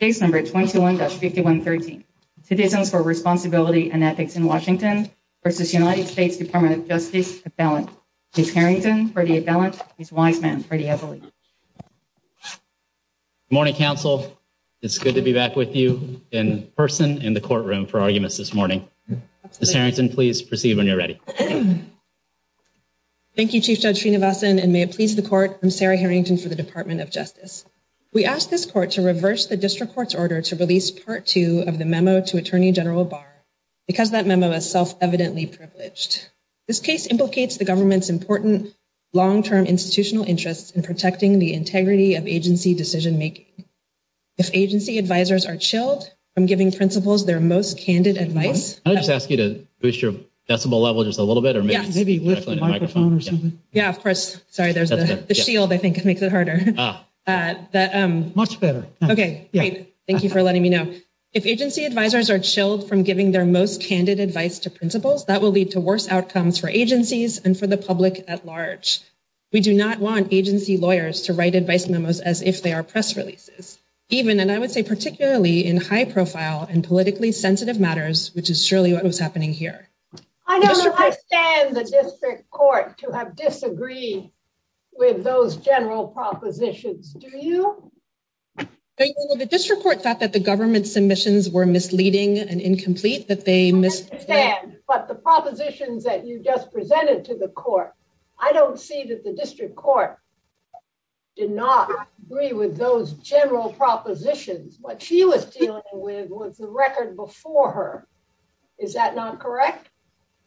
Case No. 221-5113, Citizens for Responsibility and Ethics in Washington v. United States Department of Justice, Appellant. Chief Harrington for the Appellant, Chief Weinman for the Appeal. Good morning, counsel. It's good to be back with you in person in the courtroom for arguments this morning. Ms. Harrington, please proceed when you're ready. Thank you, Chief Judge Srinivasan, and may it please the Court, I'm Sarah Harrington for the Department of Justice. We ask this Court to reverse the District Court's order to release Part 2 of the memo to Attorney General Barr because that memo is self-evidently privileged. This case implicates the government's important long-term institutional interests in protecting the integrity of agency decision-making. If agency advisors are chilled from giving principals their most candid advice— I'll just ask you to boost your decibel level just a little bit, or maybe use the microphone. Yeah, of course. Sorry, the shield, I think, makes it harder. Much better. Okay, great. Thank you for letting me know. If agency advisors are chilled from giving their most candid advice to principals, that will lead to worse outcomes for agencies and for the public at large. We do not want agency lawyers to write advice memos as if they are press releases, even, and I would say particularly, in high-profile and politically sensitive matters, which is surely what was happening here. I don't understand the District Court to have disagreed with those general propositions. Do you? The District Court thought that the government's submissions were misleading and incomplete, that they missed— I understand, but the propositions that you just presented to the Court, I don't see that the District Court did not agree with those general propositions. What she was dealing with was the record before her. Is that not correct?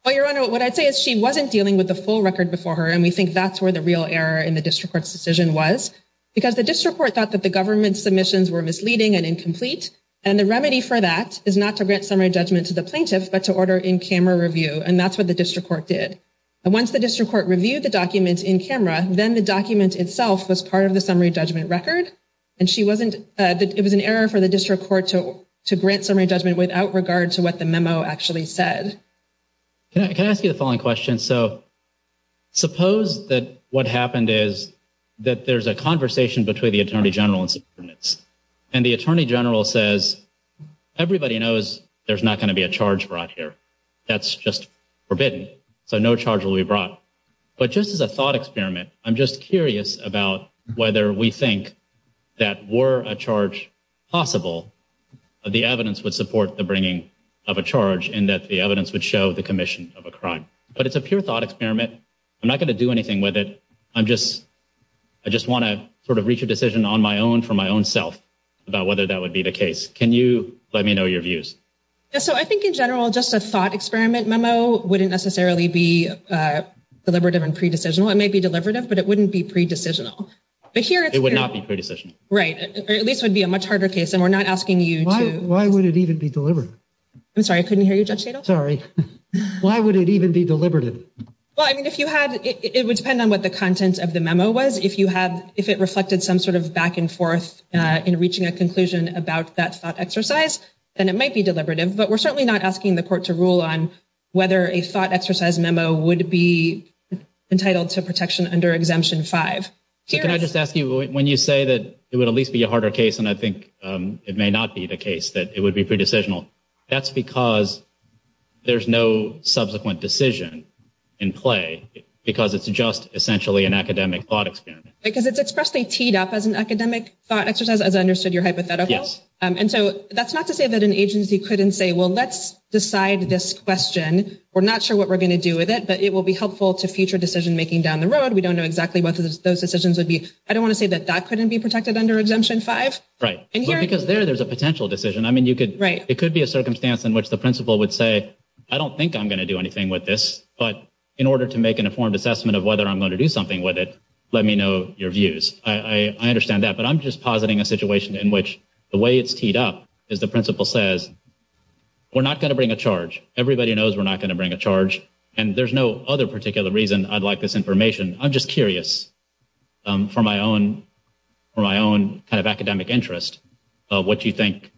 Well, Your Honor, what I'd say is she wasn't dealing with the full record before her, and we think that's where the real error in the District Court's decision was, because the District Court thought that the government's submissions were misleading and incomplete, and the remedy for that is not to grant summary judgment to the plaintiff, but to order in-camera review, and that's what the District Court did. And once the District Court reviewed the document in-camera, then the document itself was part of the summary judgment record, and she wasn't—it was an error for the District Court to grant summary judgment without regard to what the memo actually said. Can I ask you a following question? So suppose that what happened is that there's a conversation between the Attorney General and Superintendents, and the Attorney General says, everybody knows there's not going to be a charge brought here. That's just forbidden, so no charge will be brought. But just as a thought experiment, I'm just curious about whether we think that were a charge possible, the evidence would support the bringing of a charge, and that the evidence would show the commission of a crime. But it's a pure thought experiment. I'm not going to do anything with it. I'm just—I just want to sort of reach a decision on my own for my own self about whether that would be the case. Can you let me know your views? So I think in general, just a thought experiment memo wouldn't necessarily be deliberative and pre-decisional. It might be deliberative, but it wouldn't be pre-decisional. It would not be pre-decisional. Right. Or at least it would be a much harder case, and we're not asking you to— Why would it even be deliberative? I'm sorry, I couldn't hear you, Judge Shadoff. Sorry. Why would it even be deliberative? Well, I mean, if you had—it would depend on what the content of the memo was. If you had—if it reflected some sort of back and forth in reaching a conclusion about that thought exercise, then it might be deliberative. But we're certainly not asking the court to rule on whether a thought exercise memo would be entitled to protection under Exemption 5. Can I just ask you, when you say that it would at least be a harder case, and I think it may not be the case, that it would be pre-decisional, that's because there's no subsequent decision in play, because it's just essentially an academic thought experiment. Because it's expressed by TDEP as an academic thought exercise, as I understood your hypothetical. Yes. And so that's not to say that an agency couldn't say, well, let's decide this question. We're not sure what we're going to do with it, but it will be helpful to future decision-making down the road. We don't know exactly what those decisions would be. I don't want to say that that couldn't be protected under Exemption 5. Right. Because there, there's a potential decision. I mean, you could— Right. It could be a circumstance in which the principal would say, I don't think I'm going to do anything with this, but in order to make an informed assessment of whether I'm going to do something with it, let me know your views. I understand that. But I'm just positing a situation in which the way it's teed up is the principal says, we're not going to bring a charge. Everybody knows we're not going to bring a charge. And there's no other particular reason I'd like this information. I'm just curious, for my own kind of academic interest, what you think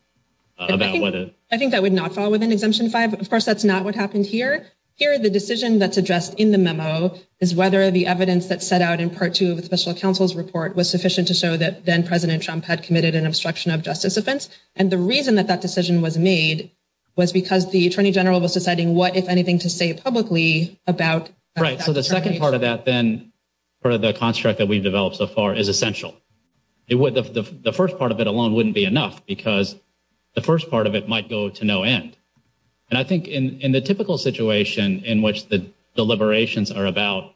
about whether— I think that would not fall within Exemption 5. But of course, that's not what happened here. Here, the decision that's addressed in the memo is whether the evidence that's set out in Part 2 of the Special Counsel's report was sufficient to show that then-President Trump had committed an obstruction of justice offense. And the reason that that decision was made was because the Attorney General was deciding what, if anything, to say publicly about— So the second part of that, then, for the construct that we've developed so far, is essential. The first part of it alone wouldn't be enough because the first part of it might go to no end. And I think in the typical situation in which the deliberations are about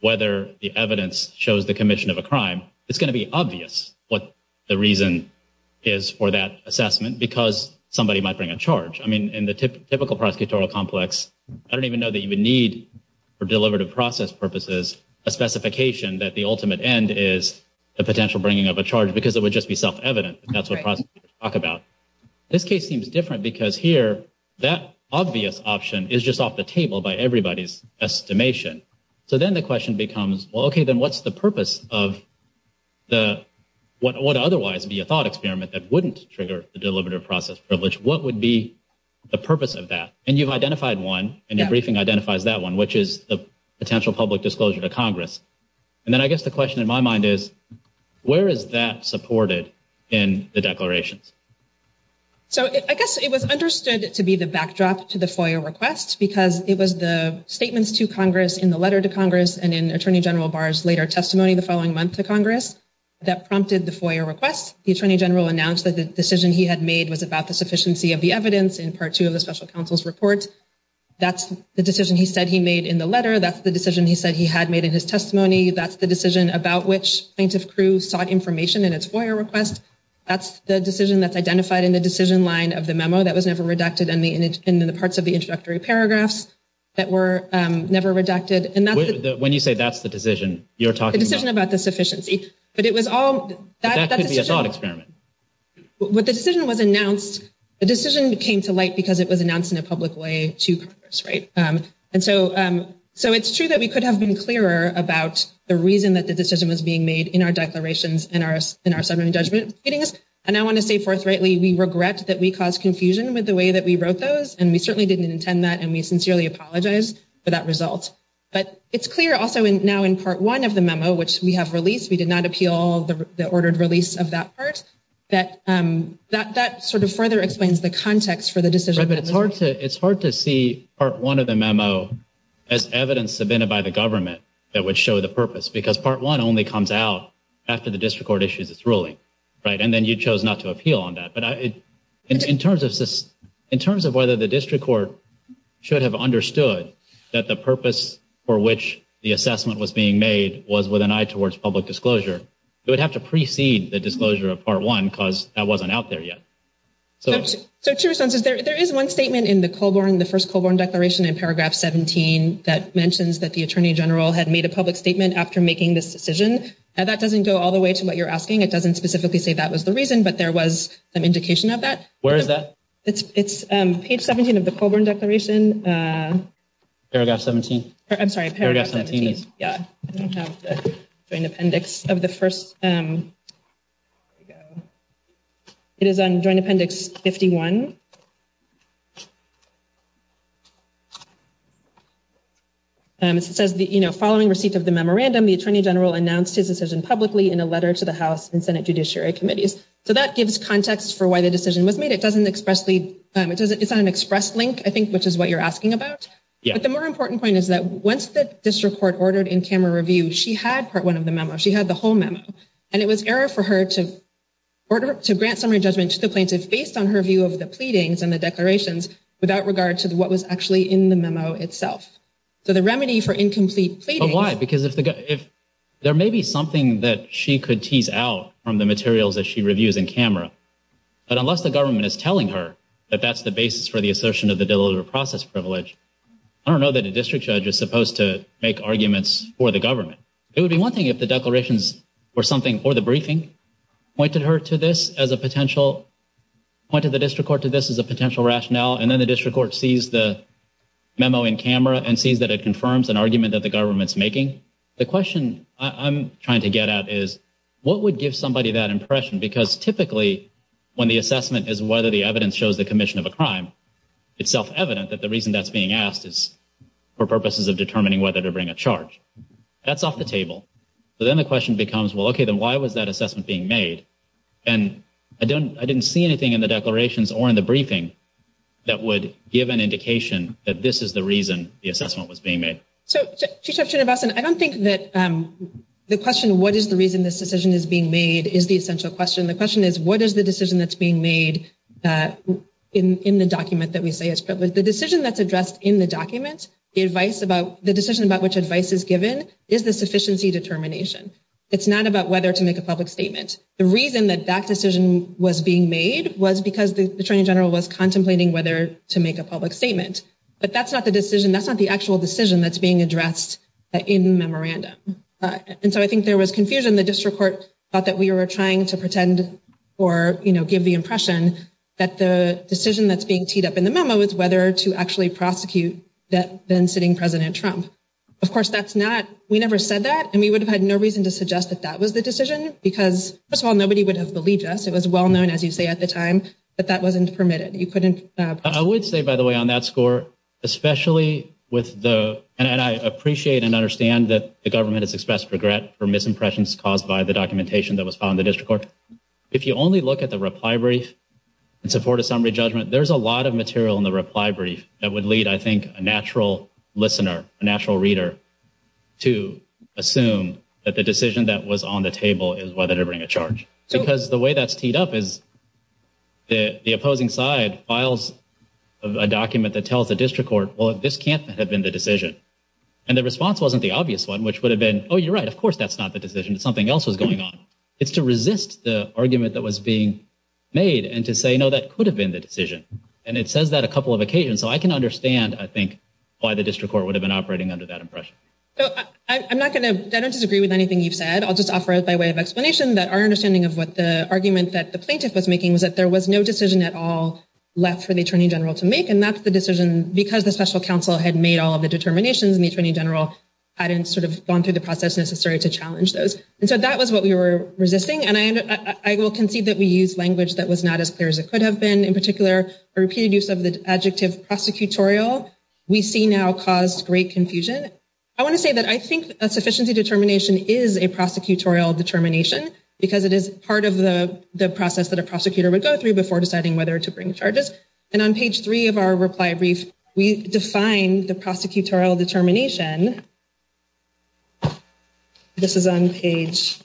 whether the evidence shows the commission of a crime, it's going to be obvious what the reason is for that assessment because somebody might bring a charge. I mean, in the typical prosecutorial complex, I don't even know that you would need or process purposes a specification that the ultimate end is a potential bringing of a charge because it would just be self-evident. That's what prosecutors talk about. This case seems different because here, that obvious option is just off the table by everybody's estimation. So then the question becomes, well, okay, then what's the purpose of what would otherwise be a thought experiment that wouldn't trigger the deliberative process privilege? What would be the purpose of that? And you've identified one and your briefing identifies that one, which is the potential public disclosure to Congress. And then I guess the question in my mind is, where is that supported in the declaration? So I guess it was understood to be the backdrop to the FOIA request because it was the statements to Congress in the letter to Congress and in Attorney General Barr's later testimony the following month to Congress that prompted the FOIA request. The Attorney General announced that the decision he had made was about the sufficiency of the report. That's the decision he said he made in the letter. That's the decision he said he had made in his testimony. That's the decision about which plaintiff's crew sought information in his FOIA request. That's the decision that's identified in the decision line of the memo that was never redacted in the parts of the introductory paragraphs that were never redacted. And that's- When you say that's the decision, you're talking about- The decision about the sufficiency. But it was all- That could be a thought experiment. What the decision was announced, the decision came to light because it was announced in a public way to Congress, right? And so it's true that we could have been clearer about the reason that the decision was being made in our declarations in our settlement judgment meetings. And I want to say forthrightly, we regret that we caused confusion with the way that we wrote those. And we certainly didn't intend that. And we sincerely apologize for that result. But it's clear also now in part one of the memo, which we have released, we did not appeal all of the ordered release of that part, that that sort of further explains the context for the decision. It's hard to see part one of the memo as evidence submitted by the government that would show the purpose because part one only comes out after the district court issues its ruling, right? And then you chose not to appeal on that. But in terms of whether the district court should have understood that the purpose for which the assessment was being made was with an eye towards public disclosure, we would have to precede the disclosure of part one because that wasn't out there yet. So to your sense, there is one statement in the Colborne, the first Colborne declaration in paragraph 17, that mentions that the attorney general had made a public statement after making this decision. And that doesn't go all the way to what you're asking. It doesn't specifically say that was the reason. But there was an indication of that. Where is that? It's page 17 of the Colborne declaration. Paragraph 17. I'm sorry, paragraph 17, yeah. I don't have the joint appendix of the first. There we go. It is joint appendix 51. And it says, you know, following receipt of the memorandum, the attorney general announced his decision publicly in a letter to the House and Senate Judiciary Committees. So that gives context for why the decision was made. It doesn't expressly, it's not an express link, I think, which is what you're asking about. But the more important point is that once the district court ordered in-camera review, she had part one of the memo. She had the whole memo. And it was error for her to grant summary judgment to the plaintiffs based on her view of the pleadings and the declarations without regard to what was actually in the memo itself. So the remedy for incomplete pleading... But why? Because if there may be something that she could tease out from the materials that she reviews in-camera, but unless the government is telling her that that's the basis for the assertion of the deliberative process privilege, I don't know that a district judge is supposed to make arguments for the government. It would be one thing if the declarations were something for the briefing, pointed her to this as a potential, pointed the district court to this as a potential rationale, and then the district court sees the memo in-camera and sees that it confirms an argument that the government's making. The question I'm trying to get at is, what would give somebody that impression? Because typically, when the assessment is whether the evidence shows the commission of a crime, it's self-evident that the reason that's being asked is for purposes of determining whether to bring a charge. That's off the table. So then the question becomes, well, okay, then why was that assessment being made? And I didn't see anything in the declarations or in the briefing that would give an indication that this is the reason the assessment was being made. So, Chief Justice Robinson, I don't think that the question, what is the reason this decision is being made, is the essential question. The question is, what is the decision that's being made in the document that we say it's The decision that's addressed in the document, the advice about, the decision about which advice is given is the sufficiency determination. It's not about whether to make a public statement. The reason that that decision was being made was because the Attorney General was contemplating whether to make a public statement. But that's not the decision, that's not the actual decision that's being addressed in the memorandum. And so I think there was confusion. The district court thought that we were trying to pretend or, you know, give the impression that the decision that's being teed up in the memo is whether to actually prosecute that then-sitting President Trump. Of course, that's not, we never said that, and we would have had no reason to suggest that that was the decision, because first of all, nobody would have believed us. It was well-known, as you say, at the time, that that wasn't permitted. You couldn't- I would say, by the way, on that score, especially with the, and I appreciate and understand that the government has expressed regret for misimpressions caused by the documentation that was filed in the district court. If you only look at the reply brief in support of summary judgment, there's a lot of material in the reply brief that would lead, I think, a natural listener, a natural reader, to assume that the decision that was on the table is whether to bring a charge. Because the way that's teed up is the opposing side files a document that tells the district court, well, this can't have been the decision. And the response wasn't the obvious one, which would have been, oh, you're right, of course that's not the decision. Something else was going on. It's to resist the argument that was being made and to say, no, that could have been the decision. And it says that a couple of occasions. So I can understand, I think, why the district court would have been operating under that impression. So I'm not going to, I don't disagree with anything you've said. I'll just offer it by way of explanation that our understanding of what the argument that the plaintiff was making was that there was no decision at all left for the attorney general to make. And that's the decision because the special counsel had made all the determinations and the attorney general hadn't sort of gone through the process necessary to challenge those. And so that was what we were resisting. And I will concede that we used language that was not as clear as it could have been. In particular, a repeated use of the adjective prosecutorial, we see now caused great confusion. I want to say that I think a sufficiency determination is a prosecutorial determination because it is part of the process that a prosecutor would go through before deciding whether to bring charges. And on page three of our reply brief, we define the prosecutorial determination. And this is on page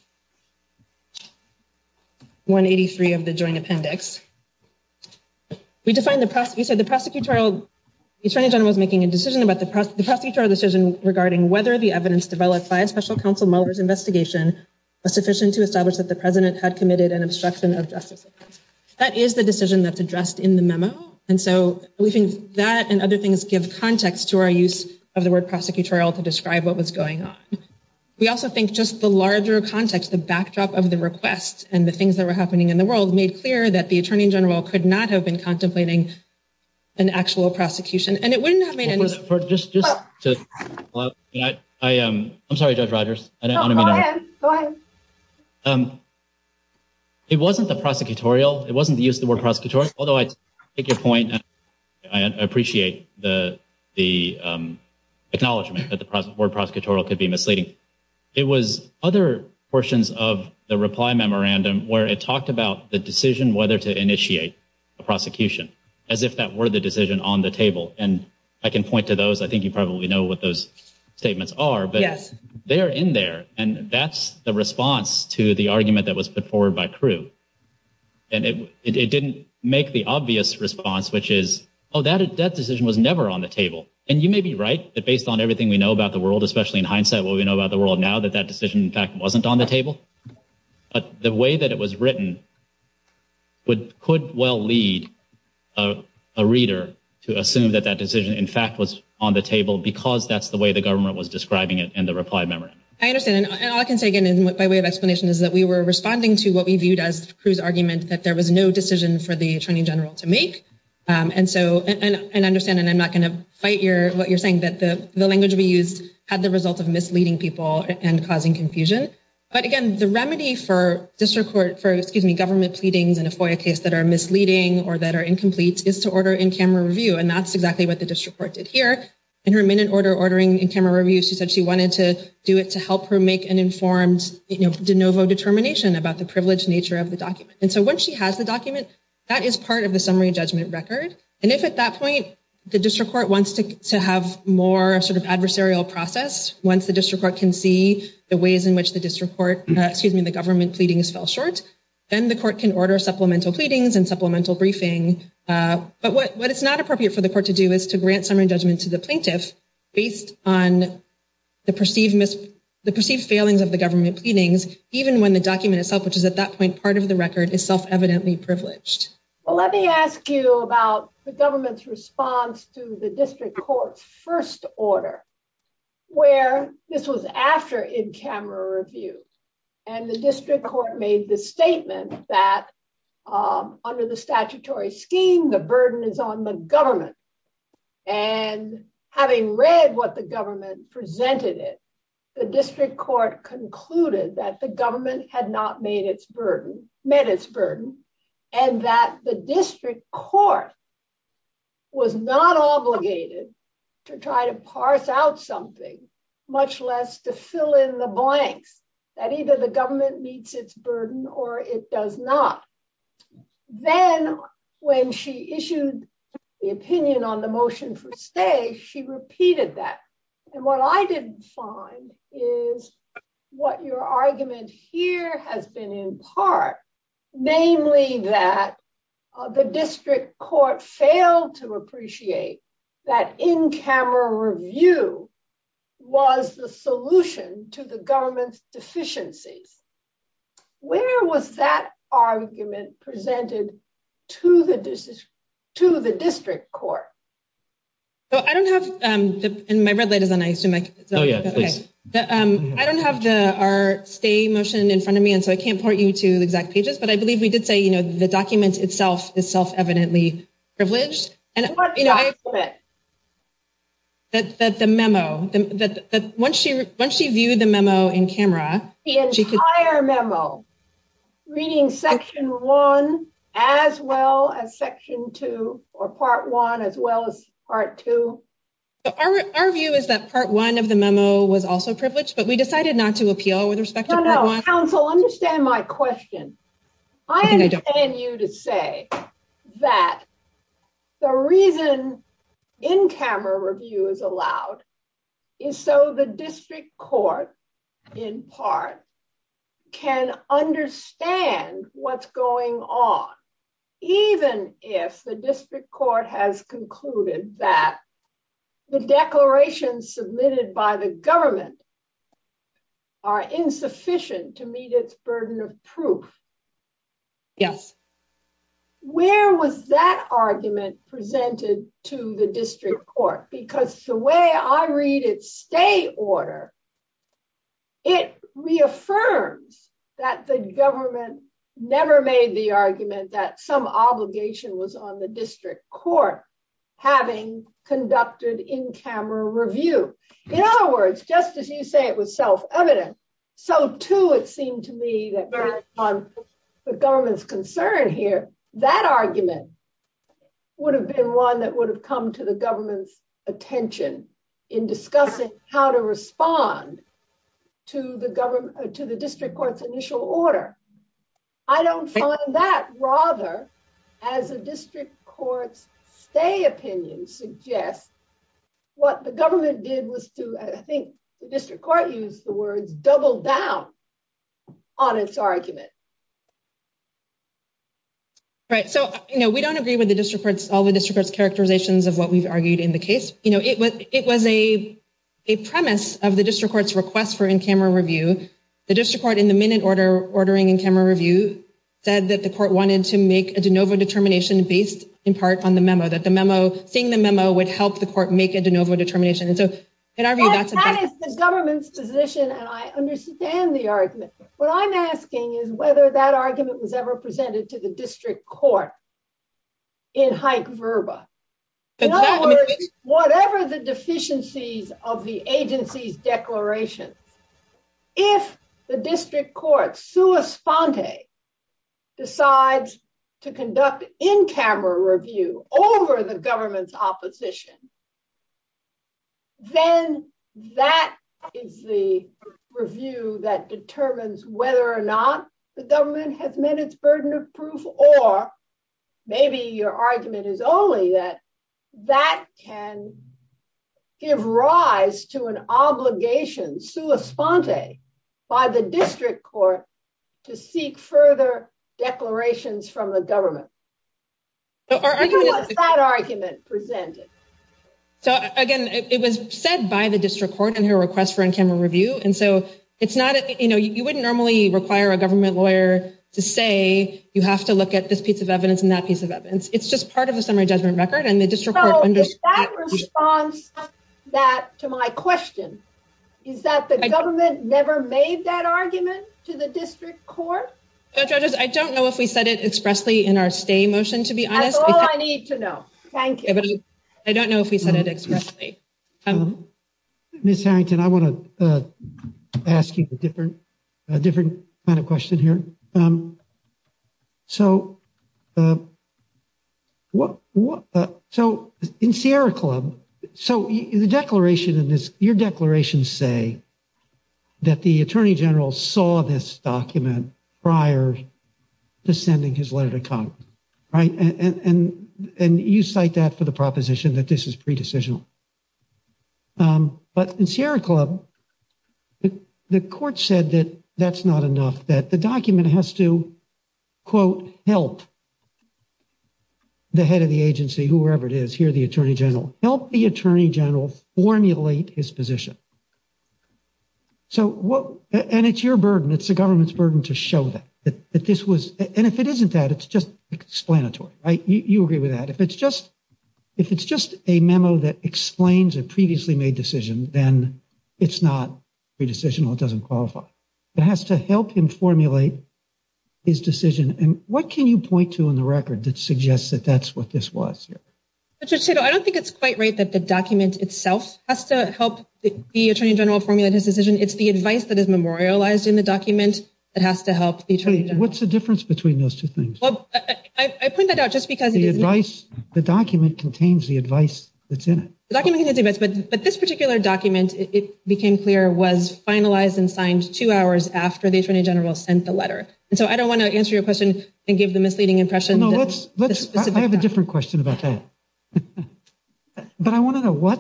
183 of the joint appendix. We define the, you said the prosecutorial, the attorney general was making a decision about the prosecutorial decision regarding whether the evidence developed by a special counsel Mueller's investigation was sufficient to establish that the president had committed an obstruction of justice. That is the decision that's addressed in the memo. And so we think that and other things give context to our use of the word prosecutorial to describe what was going on. We also think just the larger context, the backdrop of the request and the things that were happening in the world made clear that the attorney general could not have been contemplating an actual prosecution. And it wouldn't have been. I'm sorry, Judge Rogers. It wasn't the prosecutorial. It wasn't the use of the word prosecutorial. Although I take your point, I appreciate the acknowledgement that the word prosecutorial could be misleading. It was other portions of the reply memorandum where it talked about the decision whether to initiate a prosecution as if that were the decision on the table. And I can point to those. I think you probably know what those statements are, but they're in there. And that's the response to the argument that was put forward by crew. And it didn't make the obvious response, which is, oh, that decision was never on the table. And you may be right that based on everything we know about the world, especially in hindsight what we know about the world now, that that decision, in fact, wasn't on the table. But the way that it was written could well lead a reader to assume that that decision, in fact, was on the table because that's the way the government was describing it in the reply memorandum. I understand. I can say, again, my way of explanation is that we were responding to what we viewed as crew's argument that there was no decision for the attorney general to make. And so, and I understand that I'm not going to fight what you're saying, that the language we use had the result of misleading people and causing confusion. But again, the remedy for district court for, excuse me, government pleading in a FOIA case that are misleading or that are incomplete is to order in-camera review. And that's exactly what the district court did here. In her minute order ordering in-camera review, she said she wanted to do it to help her make an informed de novo determination about the privileged nature of the document. And so once she has the document, that is part of the summary judgment record. And if at that point, the district court wants to have more sort of adversarial process, once the district court can see the ways in which the district court, excuse me, the government pleadings fell short, then the court can order supplemental pleadings and supplemental briefing. But what it's not appropriate for the court to do is to grant summary judgment to the of the government pleadings, even when the document itself, which is at that point, part of the record is self-evidently privileged. Well, let me ask you about the government's response to the district court's first order, where this was after in-camera review. And the district court made the statement that under the statutory scheme, the burden is on the government. And having read what the government presented it, the district court concluded that the government had not met its burden, and that the district court was not obligated to try to parse out something, much less to fill in the blanks, that either the government meets its burden or it does not. Then when she issued the opinion on the motion for stay, she repeated that. And what I didn't find is what your argument here has been in part, mainly that the district court failed to appreciate that in-camera review was the solution to the government's deficiency. Where was that argument presented to the district court? So I don't have, and my red light is on, I assume. Oh, yeah, please. But I don't have our stay motion in front of me, and so I can't point you to the exact pages, but I believe we did say the document itself is self-evidently privileged. What document? The memo. Once she viewed the memo in-camera. The entire memo, reading section one as well as section two, or part one as well as part two. Our view is that part one of the memo was also privileged, but we decided not to appeal with respect to part one. No, no, counsel, understand my question. I understand you to say that the reason in-camera review is allowed is so the district court in part can understand what's going on, even if the district court has concluded that the Yes. Where was that argument presented to the district court? Because the way I read it's stay order, it reaffirmed that the government never made the argument that some obligation was on the district court having conducted in-camera review. In other words, just as you say it was self-evident. So too, it seemed to me that on the government's concern here, that argument would have been one that would have come to the government's attention in discussing how to respond to the district court's initial order. I don't find that. Rather, as the district court's stay opinion suggests, what the government did was to, I think the district court used the word, double down on its argument. Right, so we don't agree with all the district court's characterizations of what we've argued in the case. It was a premise of the district court's request for in-camera review. The district court in the minute ordering in-camera review said that the court wanted to make a de novo determination based in part on the memo, that seeing the memo would help the court make a de novo determination. That is the government's position, and I understand the argument. What I'm asking is whether that argument was ever presented to the district court in hype verba. In other words, whatever the deficiencies of the agency's declaration, if the district court, sua sponte, decides to conduct in-camera review over the government's opposition, then that is the review that determines whether or not the government has met its burden of proof, or maybe your argument is only that that can give rise to an obligation, sua sponte, by the district court to seek further declarations from the government. What's that argument presented? So, again, it was said by the district court in her request for in-camera review, and so it's not, you know, you wouldn't normally require a government lawyer to say, you have to look at this piece of evidence and that piece of evidence. It's just part of a semi-judgmental record, and the district court understood. Does that respond to my question? Is that the government never made that argument to the district court? I don't know if we said it expressly in our stay motion, to be honest. That's all I need to know. Thank you. I don't know if we said it expressly. Ms. Harrington, I want to ask you a different kind of question here. So, in Sierra Club, so in the declaration in this, your declarations say that the attorney general saw this document prior to sending his letter to Congress, right? And you cite that for the proposition that this is pre-decisional. But in Sierra Club, the court said that that's not enough, that the document has to, quote, help the head of the agency, whoever it is, here the attorney general, help the attorney general formulate his position. So, and it's your burden, it's the government's burden to show that this was, and if it isn't that, it's just explanatory, right? You agree with that. If it's just a memo that explains a previously made decision, then it's not pre-decisional, it doesn't qualify. It has to help him formulate his decision. And what can you point to in the record that suggests that that's what this was? I don't think it's quite right that the document itself has to help the attorney general formulate his decision. What's the difference between those two things? Well, I point that out just because- The advice, the document contains the advice that's in it. The document contains the advice, but this particular document, it became clear, was finalized and signed two hours after the attorney general sent the letter. And so I don't want to answer your question and give the misleading impression that- No, let's, I have a different question about that. But I want to know what,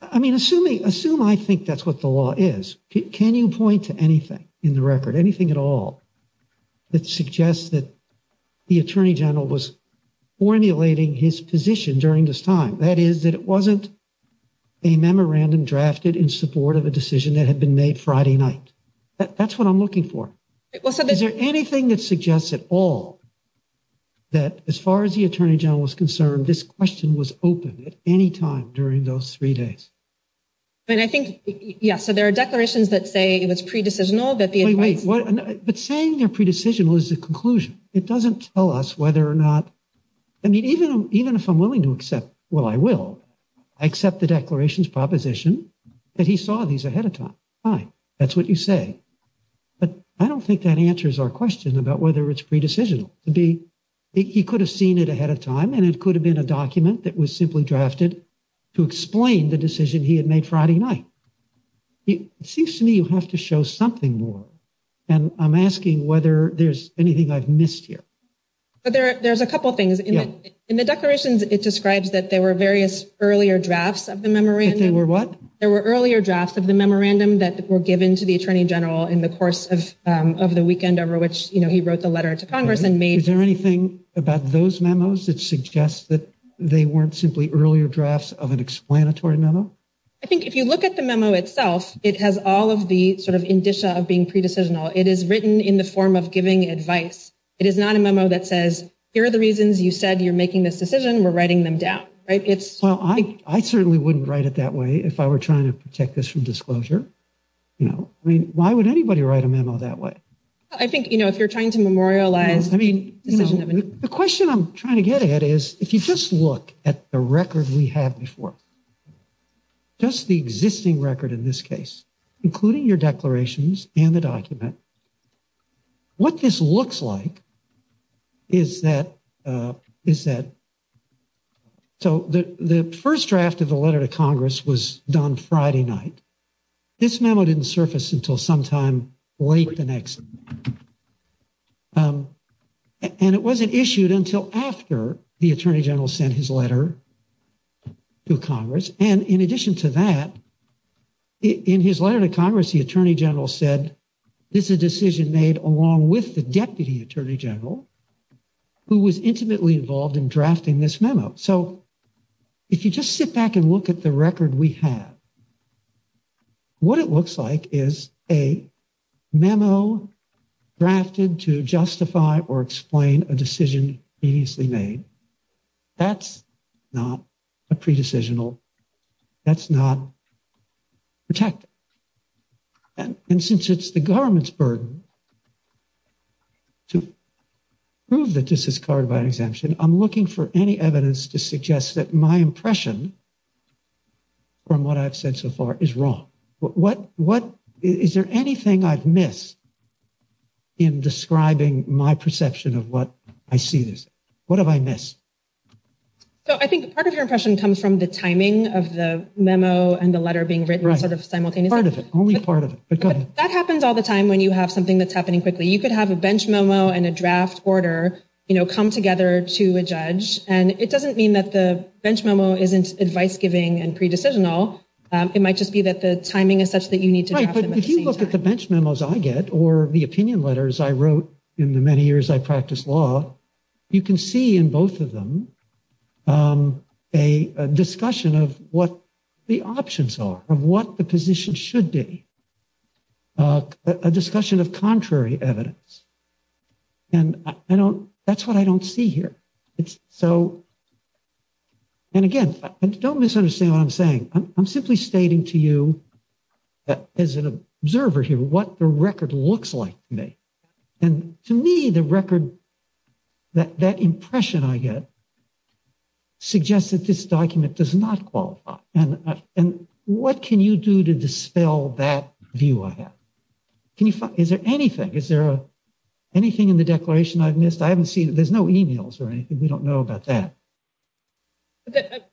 I mean, assume I think that's what the law is, can you point to anything in the record, anything at all, that suggests that the attorney general was formulating his position during this time? That is, that it wasn't a memorandum drafted in support of a decision that had been made Friday night. That's what I'm looking for. Is there anything that suggests at all that as far as the attorney general was concerned, this question was open at any time during those three days? And I think, yeah, so there are declarations that say it was pre-decisional that the- Wait, wait, but saying you're pre-decisional is the conclusion. It doesn't tell us whether or not, I mean, even if I'm willing to accept, well, I will, I accept the declaration's proposition that he saw these ahead of time. Fine. That's what you say. But I don't think that answers our question about whether it's pre-decisional. It'd be, he could have seen it ahead of time and it could have been a document that was simply drafted to explain the decision he had made Friday night. It seems to me you have to show something more. And I'm asking whether there's anything I've missed here. But there's a couple of things in it. In the declaration, it describes that there were various earlier drafts of the memorandum. There were what? There were earlier drafts of the memorandum that were given to the attorney general in the course of the weekend over which he wrote the letter to Congress and made- about those memos that suggest that they weren't simply earlier drafts of an explanatory memo? I think if you look at the memo itself, it has all of the sort of indicia of being pre-decisional. It is written in the form of giving advice. It is not a memo that says, here are the reasons you said you're making this decision. We're writing them down, right? It's- Well, I certainly wouldn't write it that way if I were trying to protect this from disclosure. You know, I mean, why would anybody write a memo that way? I think, you know, if you're trying to memorialize- I mean, the question I'm trying to get at is, if you just look at the record we had before, just the existing record in this case, including your declarations and the document, what this looks like is that- so the first draft of the letter to Congress was done Friday night. This memo didn't surface until sometime late the next- and it wasn't issued until after the Attorney General sent his letter to Congress. And in addition to that, in his letter to Congress, the Attorney General said, this is a decision made along with the Deputy Attorney General, who was intimately involved in drafting this memo. So if you just sit back and look at the record we have, what it looks like is a memo drafted to justify or explain a decision immediately made. That's not a pre-decisional. That's not protected. And since it's the government's burden to prove that this is clarified exemption, I'm looking for any evidence to suggest that my sense of art is wrong. Is there anything I've missed in describing my perception of what I see this? What have I missed? So I think part of your question comes from the timing of the memo and the letter being written simultaneously. Part of it, only part of it. That happens all the time when you have something that's happening quickly. You could have a bench momo and a draft order come together to a judge, and it doesn't mean that the bench momo isn't advice-giving and pre-decisional. It might just be that the timing is such that you need to have them at the same time. Right. But if you look at the bench memos I get or the opinion letters I wrote in the many years I practiced law, you can see in both of them a discussion of what the options are, of what the position should be, a discussion of contrary evidence. And I don't, that's what I don't see here. It's so, and again, don't misunderstand what I'm saying. I'm simply stating to you as an observer here what the record looks like to me. And to me, the record, that impression I get suggests that this document does not qualify. And what can you do to dispel that view I have? Can you, is there anything? Is there anything in the declaration I've missed? I haven't seen, there's no emails or anything. We don't know about that. But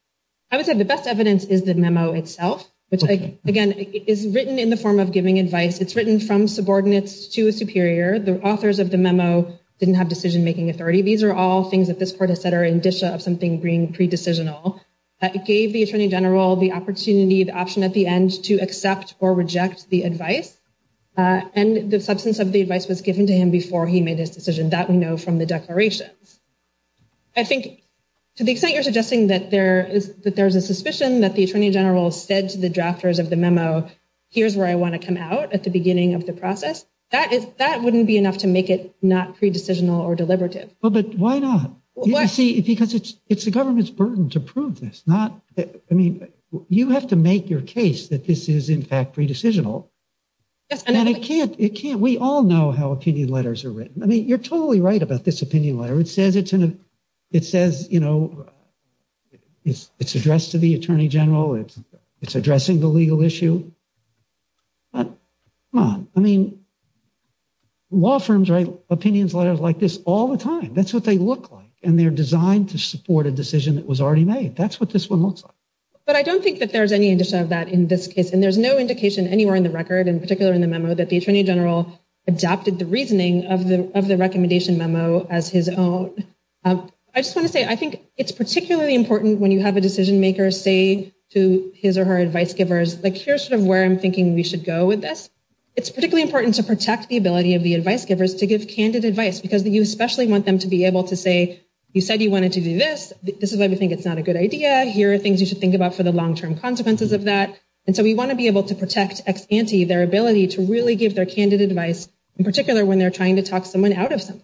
I would say the best evidence is the memo itself, which again, is written in the form of giving advice. It's written from subordinates to a superior. The authors of the memo didn't have decision-making authority. These are all things that this court has said are in vitia of something being pre-decisional. That gave the attorney general the opportunity, the option at the end to accept or reject the advice. And the substance of the advice was given to him before he made his decision. That we know from the declaration. I think to the extent you're suggesting that there is a suspicion that the attorney general said to the drafters of the memo, here's where I want to come out at the beginning of the process. That wouldn't be enough to make it not pre-decisional or deliberative. Well, but why not? You see, because it's the government's burden to prove this. Not, I mean, you have to make your case that this is in fact pre-decisional. And it can't, we all know how opinion letters are written. I mean, you're totally right about this opinion letter. It says it's in a, it says, you know, it's addressed to the attorney general. It's addressing the legal issue. But come on. I mean, law firms write opinion letters like this all the time. That's what they look like. And they're designed to support a decision that was already made. That's what this one looks like. But I don't think that there's any indication of that in this case. And there's no indication anywhere in the record, and particularly in the memo, that the attorney general adopted the reasoning of the recommendation memo as his own. I just want to say, I think it's particularly important when you have a decision maker say to his or her advice givers, like, here's sort of where I'm thinking we should go with this. It's particularly important to protect the ability of the advice givers to give candid advice, because you especially want them to be able to say, you said you wanted to do this. This is why we think it's not a good idea. Here are things you should think about for the long-term consequences of that. And so we want to be able to protect ex ante their ability to really give their candid advice, in particular when they're trying to talk someone out of something.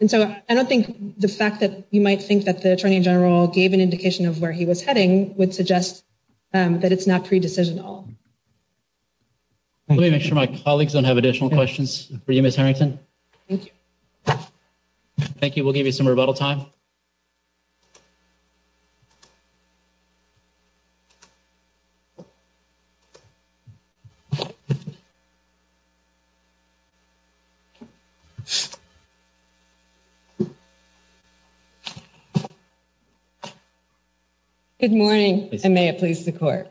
And so I don't think the fact that you might think that the attorney general gave an indication of where he was heading would suggest that it's not pre-decision at all. Let me make sure my colleagues don't have additional questions for you, Ms. Henryton. Thank you. We'll give you some rebuttal time. Good morning, and may it please the Court.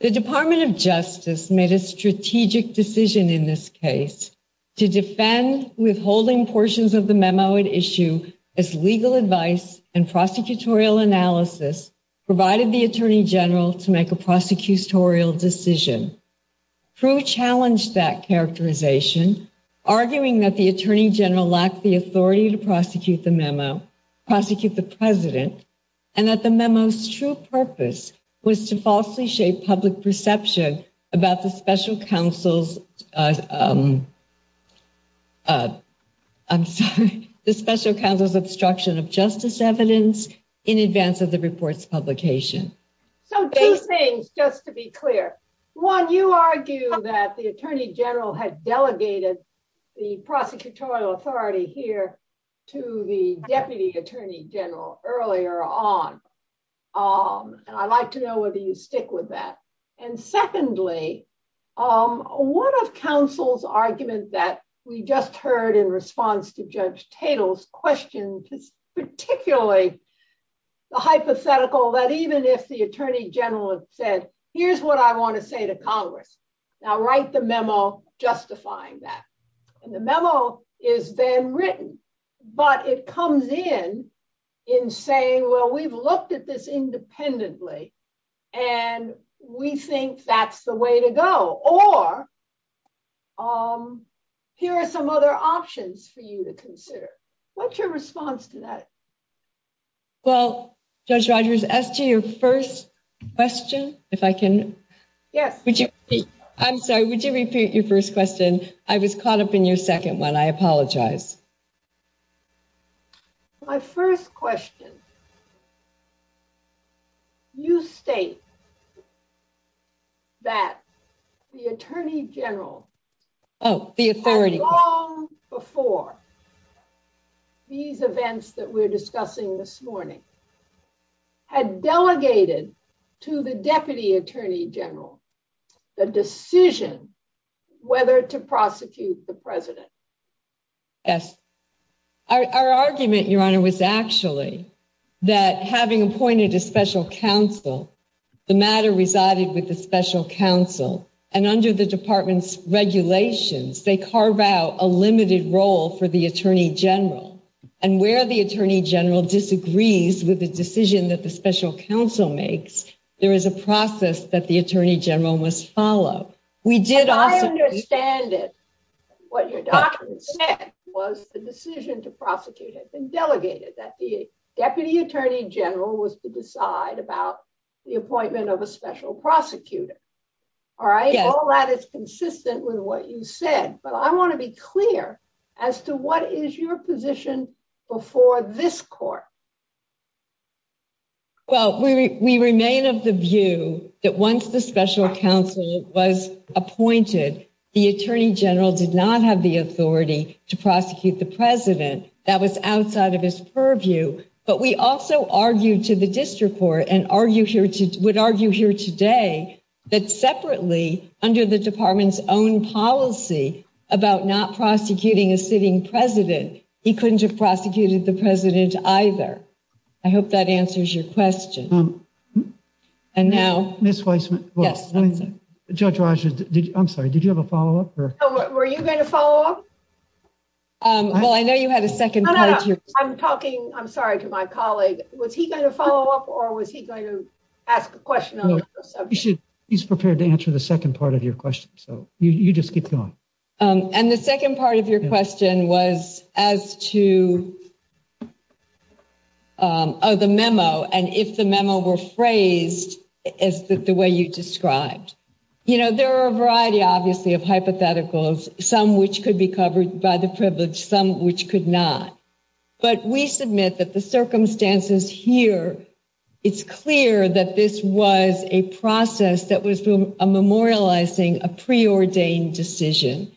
The Department of Justice made a strategic decision in this case to defend withholding portions of the memo at issue if legal advice and prosecutorial analysis provided the attorney general to make a prosecutorial decision. Pru challenged that characterization, arguing that the attorney general lacked the authority to prosecute the memo, prosecute the president, and that the memo's true purpose was to falsely shape public perception about the special counsel's, I'm sorry, the special counsel's obstruction of justice evidence in advance of the report's publication. So two things, just to be clear. One, you argue that the attorney general had delegated the prosecutorial authority here to the deputy attorney general earlier on, and I'd like to know whether you stick with that. And secondly, one of counsel's arguments that we just heard in response to Judge Tatel's particularly the hypothetical that even if the attorney general has said, here's what I want to say to Congress, now write the memo justifying that. And the memo has been written, but it comes in in saying, well, we've looked at this independently, and we think that's the way to go. Or here are some other options for you to consider. What's your response to that? Well, Judge Rogers, as to your first question, if I can. Yes. I'm sorry, would you repeat your first question? I was caught up in your second one. I apologize. My first question, you state that the attorney general. Oh, the authority. Long before these events that we're discussing this morning, had delegated to the deputy attorney general the decision whether to prosecute the president. Our argument, Your Honor, was actually that having appointed a special counsel, the matter resided with the special counsel, and under the department's regulations, they carve out a limited role for the attorney general. And where the attorney general disagrees with the decision that the special counsel makes, there is a process that the attorney general must follow. We did. I understand it. What your document said was the decision to prosecute has been delegated, that the deputy attorney general was to decide about the appointment of a special prosecutor. All right. All that is consistent with what you said. But I want to be clear as to what is your position before this court? Well, we remain of the view that once the special counsel was appointed, the attorney general did not have the authority to prosecute the president. That was outside of his purview. But we also argued to the district court and would argue here today that separately, under the department's own policy about not prosecuting a sitting president, he couldn't have prosecuted the president either. I hope that answers your question. Judge Rogers, I'm sorry, did you have a follow-up? Were you going to follow up? Well, I know you had a second question. I'm sorry to my colleague. Was he going to follow up or was he going to ask a question? He's prepared to answer the second part of your question. So you just keep going. And the second part of your question was as to the memo, and if the memo were phrased as the way you described. You know, there are a variety, obviously, of hypotheticals, some which could be covered by the privilege, some which could not. But we submit that the circumstances here, it's clear that this was a process that was memorializing a preordained decision.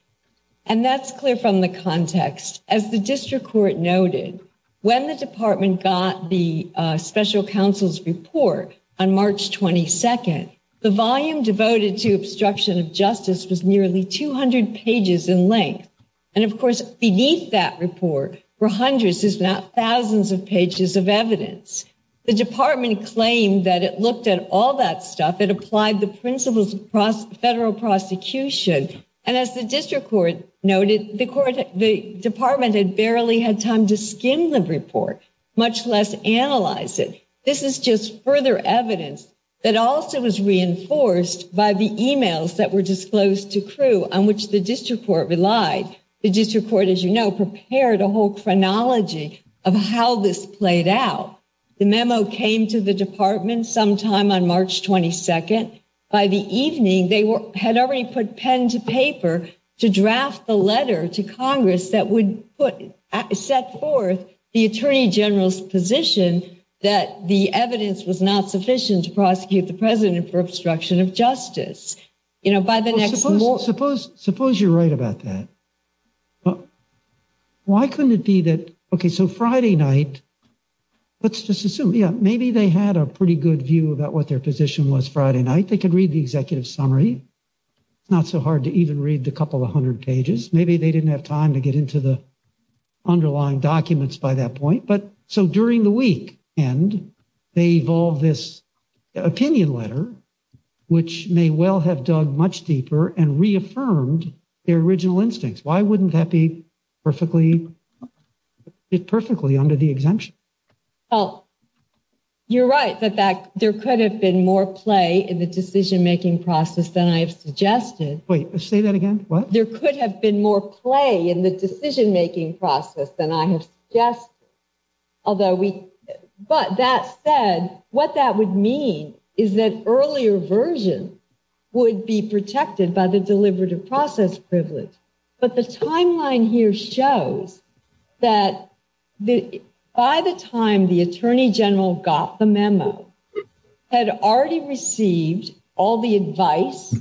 And that's clear from the context. As the district court noted, when the department got the special counsel's report on March 22nd, the volume devoted to obstruction of justice was nearly 200 pages in length. And of course, beneath that report were hundreds if not thousands of pages of evidence. The department claimed that it looked at all that stuff, it applied the principles of federal prosecution. And as the district court noted, the department had barely had time to skim the report, much less analyze it. This is just further evidence that also was reinforced by the emails that were disclosed to crew on which the district court relied. The district court, as you know, prepared a whole chronology of how this played out. The memo came to the department sometime on March 22nd. By the evening, they had already put pen to paper to draft the letter to Congress that would set forth the attorney general's position that the evidence was not sufficient to prosecute the president for obstruction of justice. You know, by the next... Well, suppose you're right about that. Why couldn't it be that, okay, so Friday night, let's just assume, yeah, maybe they had a pretty good view about what their position was Friday night. They could read the executive summary. Not so hard to even read a couple of hundred pages. Maybe they didn't have time to get into the underlying documents by that point. So during the week end, they evolved this opinion letter, which may well have dug much deeper and reaffirmed their original instincts. Why wouldn't that be perfectly, perfectly under the exemption? Well, you're right that there could have been more play in the decision-making process than I've suggested. Wait, say that again, what? There could have been more play in the decision-making process than I have just... Although we... But that said, what that would mean is that earlier version would be protected by the deliberative process privilege. But the timeline here shows that by the time the attorney general got the memo, had already received all the advice,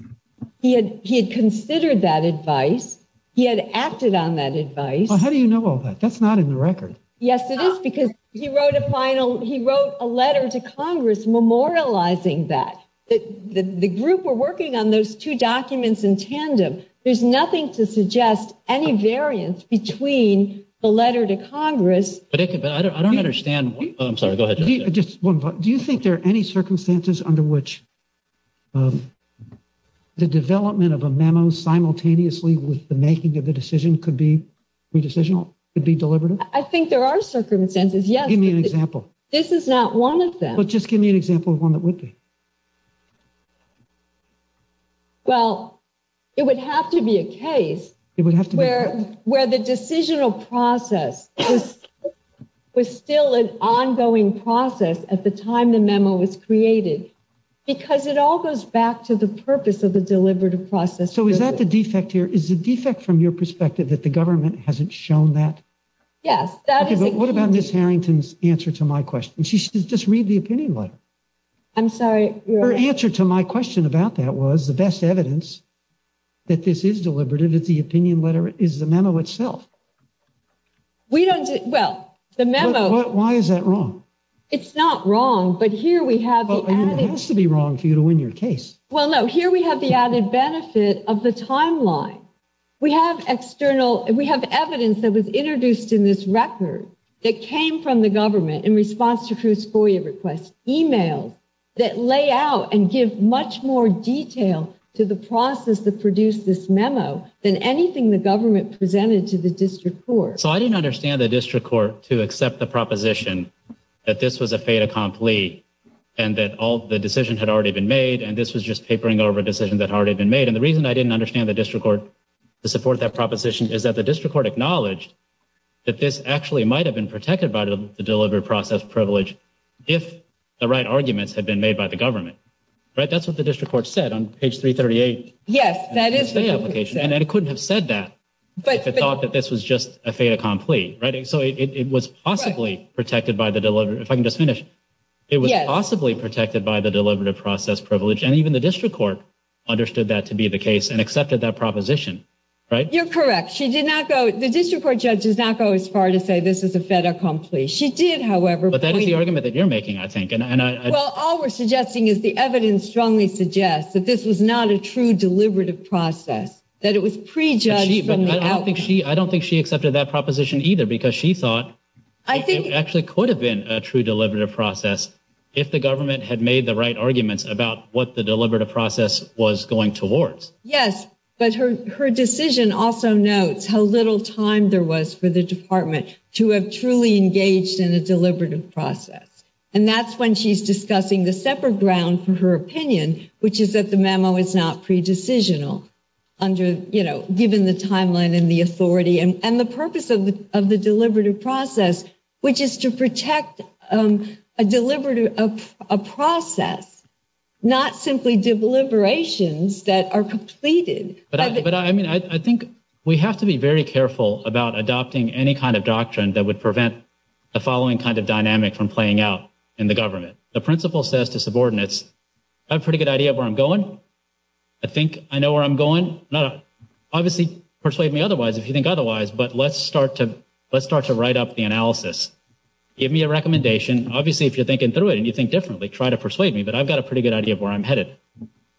he had considered that advice, he had acted on that advice. Well, how do you know all that? That's not in the record. Yes, it is because he wrote a final... He wrote a letter to Congress memorializing that. The group were working on those two documents in tandem. There's nothing to suggest any variance between the letter to Congress... But I don't understand... Oh, I'm sorry, go ahead. Just one thought, do you think there are any circumstances under which the development of a memo simultaneously with the making of a decision could be pre-decisional, could be deliberative? I think there are circumstances, yes. Give me an example. This is not one of them. But just give me an example of one that would be. Well, it would have to be a case where the decisional process was still an ongoing process at the time the memo was created, because it all goes back to the purpose of the deliberative process. So is that the defect here? Is the defect from your perspective that the government hasn't shown that? Yes, that is... What about Ms. Harrington's answer to my question? She should just read the opinion letter. I'm sorry, your... Her answer to my question about that was the best evidence that this is deliberative, that the opinion letter is the memo itself. We don't... Well, the memo... Why is that wrong? It's not wrong, but here we have... Well, it has to be wrong for you to win your case. Well, no, here we have the added benefit of the timeline. We have external... We have evidence that was introduced in this record that came from the government in response to Cruz-Foya request, emailed, that lay out and give much more detail to the process that So I didn't understand the district court to accept the proposition that this was a fait accompli and that all the decisions had already been made, and this was just tapering over decisions that had already been made. And the reason I didn't understand the district court to support that proposition is that the district court acknowledged that this actually might have been protected by the delivery process privilege if the right arguments had been made by the government, right? That's what the district court said on page 338. Yes, that is... And it couldn't have said that if it thought that this was just a fait accompli, right? So it was possibly protected by the delivery... If I can just finish, it was possibly protected by the delivery process privilege, and even the district court understood that to be the case and accepted that proposition, right? You're correct. She did not go... The district court judge did not go as far to say this is a fait accompli. She did, however... But that is the argument that you're making, I think, and I... Well, all we're suggesting is the evidence strongly suggests that this is not a true deliberative process, that it was prejudged from the outside. I don't think she accepted that proposition either because she thought it actually could have been a true deliberative process if the government had made the right arguments about what the deliberative process was going towards. Yes, but her decision also notes how little time there was for the department to have truly engaged in a deliberative process. And that's when she's discussing the separate ground for her opinion, which is that the deliberative process has to be decisional given the timeline and the authority and the purpose of the deliberative process, which is to protect a process, not simply deliberations that are completed. But I mean, I think we have to be very careful about adopting any kind of doctrine that would prevent the following kind of dynamic from playing out in the government. The principle says to subordinates, I have a pretty good idea of where I'm going. I think I know where I'm going. Now, obviously, persuade me otherwise if you think otherwise, but let's start to write up the analysis. Give me a recommendation. Obviously, if you're thinking through it and you think differently, try to persuade me, but I've got a pretty good idea of where I'm headed.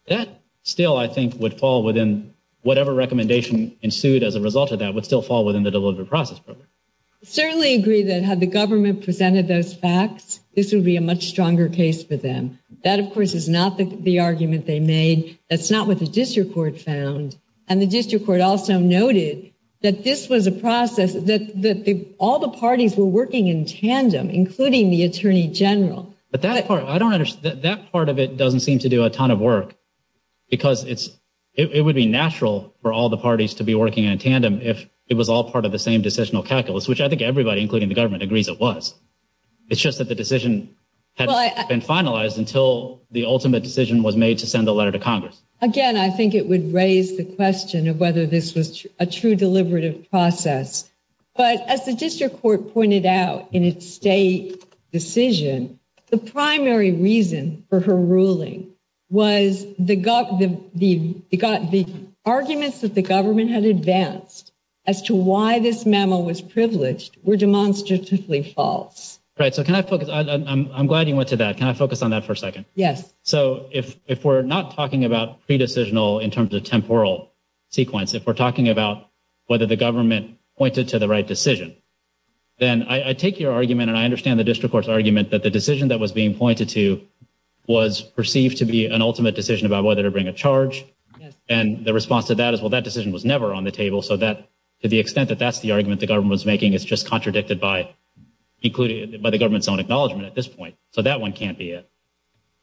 That still, I think, would fall within whatever recommendation ensued as a result of that would still fall within the deliberative process. I certainly agree that had the government presented those facts, this would be a much stronger case for them. That, of course, is not the argument they made. That's not what the district court found. And the district court also noted that this was a process that all the parties were working in tandem, including the attorney general. But that part, I don't understand. That part of it doesn't seem to do a ton of work because it would be natural for all the parties to be working in tandem if it was all part of the same decisional calculus, which I think everybody, including the government, agrees it was. It's just that the decision had been finalized until the ultimate decision was made to send a letter to Congress. Again, I think it would raise the question of whether this was a true deliberative process. But as the district court pointed out in its state decision, the primary reason for her ruling was the arguments that the government had advanced as to why this mammal was privileged were demonstratively false. Right. So can I focus? I'm glad you went to that. Can I focus on that for a second? Yes. So if we're not talking about pre-decisional in terms of temporal sequence, if we're talking about whether the government pointed to the right decision, then I take your argument, and I understand the district court's argument, but the decision that was being pointed to was perceived to be an ultimate decision about whether to bring a charge. And the response to that is, well, that decision was never on the table. So that, to the extent that that's the argument the government was making, is just contradicted by the government's own acknowledgement at this point. So that one can't be it.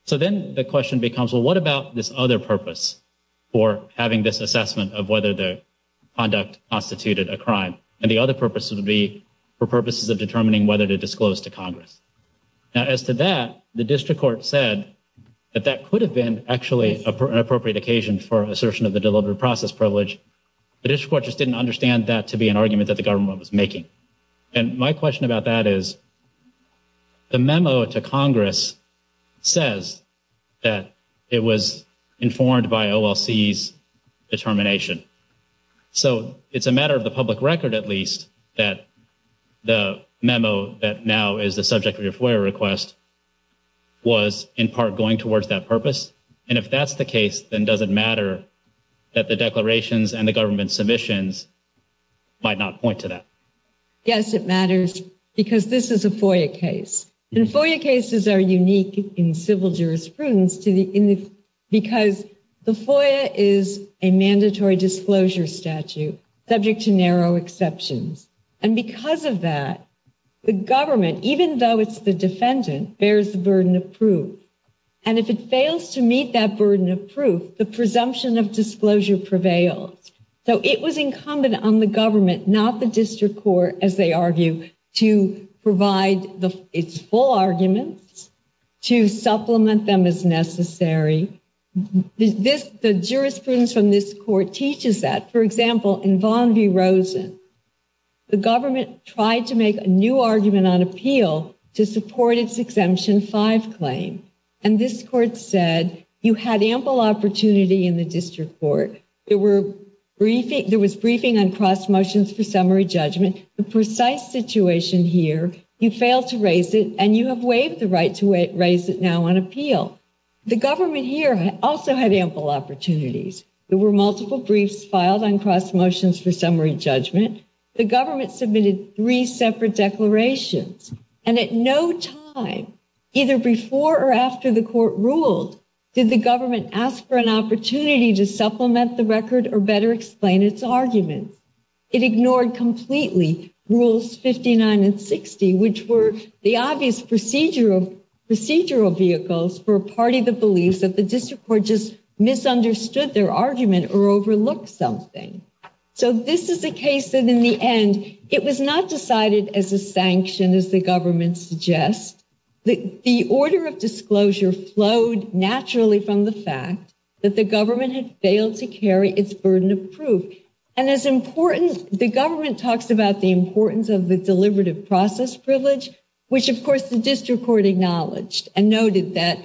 So then the question becomes, well, what about this other purpose for having this assessment of whether the conduct constituted a crime? And the other purpose would be for purposes of determining whether to disclose to Congress. Now, as to that, the district court said that that could have been actually an appropriate occasion for assertion of the deliberative process privilege. The district court just didn't understand that to be an argument that the government was making. And my question about that is, the memo to Congress says that it was informed by OLC's determination. So it's a matter of the public record, at least, that the memo that now is the subject of your FOIA request was in part going towards that purpose. And if that's the case, then does it matter that the declarations and the government's submissions might not point to that? Yes, it matters because this is a FOIA case. And FOIA cases are unique in civil jurisprudence because the FOIA is a mandatory disclosure statute subject to narrow exceptions. And because of that, the government, even though it's the defendant, bears the burden of proof. And if it fails to meet that burden of proof, the presumption of disclosure prevails. So it was incumbent on the government, not the district court, as they argue, to provide its full arguments, to supplement them as necessary. The jurisprudence from this court teaches that. For example, in Von D. Rosen, the government tried to make a new argument on appeal to support its Exemption 5 claim. And this court said, you had ample opportunity in the district court. There was briefing on cross motions for summary judgment. The precise situation here, you failed to raise it, and you have waived the right to raise it now on appeal. The government here also had ample opportunities. There were multiple briefs filed on cross motions for summary judgment. The government submitted three separate declarations. And at no time, either before or after the court ruled, did the government ask for an opportunity to supplement the record or better explain its arguments. It ignored completely rules 59 and 60, which were the obvious procedural vehicles for a party that believes that the district court just misunderstood their argument or overlooked something. So this is a case that, in the end, it was not decided as a sanction, as the government suggests. The order of disclosure flowed naturally from the fact that the government had failed to carry its burden of proof. And as important, the government talks about the importance of the deliberative process privilege, which, of course, the district court acknowledged and noted that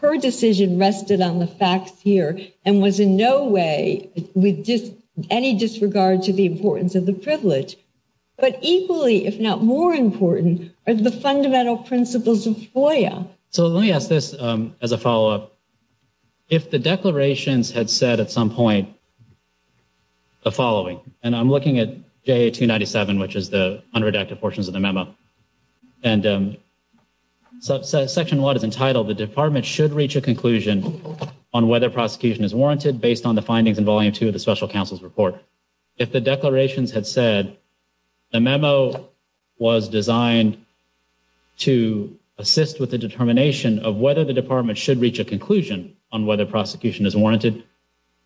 her decision rested on the facts here and was in no way with any disregard to the importance of the privilege. But equally, if not more important, is the fundamental principles of FOIA. So let me ask this as a follow-up. If the declarations had said at some point the following, and I'm looking at J1897, which is the underdrafted portions of the memo, and section one is entitled, the department should reach a conclusion on whether prosecution is warranted based on the findings in volume two of the special counsel's report. If the declarations had said the memo was designed to assist with the determination of whether the department should reach a conclusion on whether prosecution is warranted,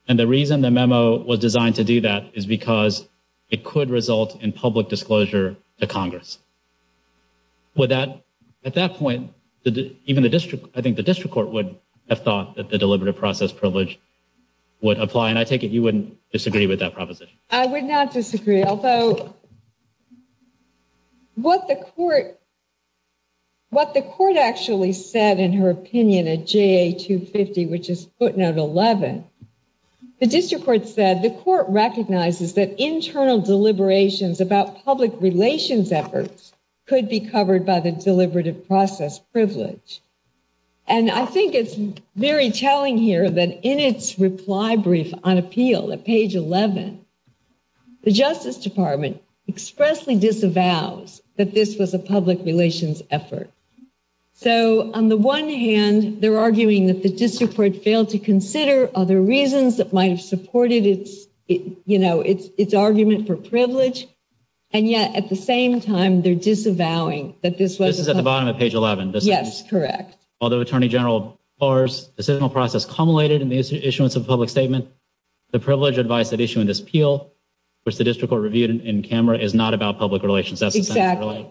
and the reason the memo was designed to do that is because it could result in public disclosure to Congress. Would that, at that point, even the district, I think the district court would have thought that the deliberative process privilege would apply, and I take it you wouldn't disagree with that proposition. I would not disagree, although what the court actually said in her opinion at JA250, which is footnote 11, the district court said the court recognizes that internal deliberations about public relations efforts could be covered by the deliberative process privilege, and I think it's very telling here that in its reply brief on appeal at page 11, the Justice Department expressly disavows that this was a public relations effort. So, on the one hand, they're arguing that the district court failed to consider other And yet, at the same time, they're disavowing that this was at the bottom of page 11. Yes, correct. Although Attorney General Barr's decisional process culminated in the issuance of public statement, the privilege advice that issued in this appeal, which the district court reviewed in camera, is not about public relations. Exactly,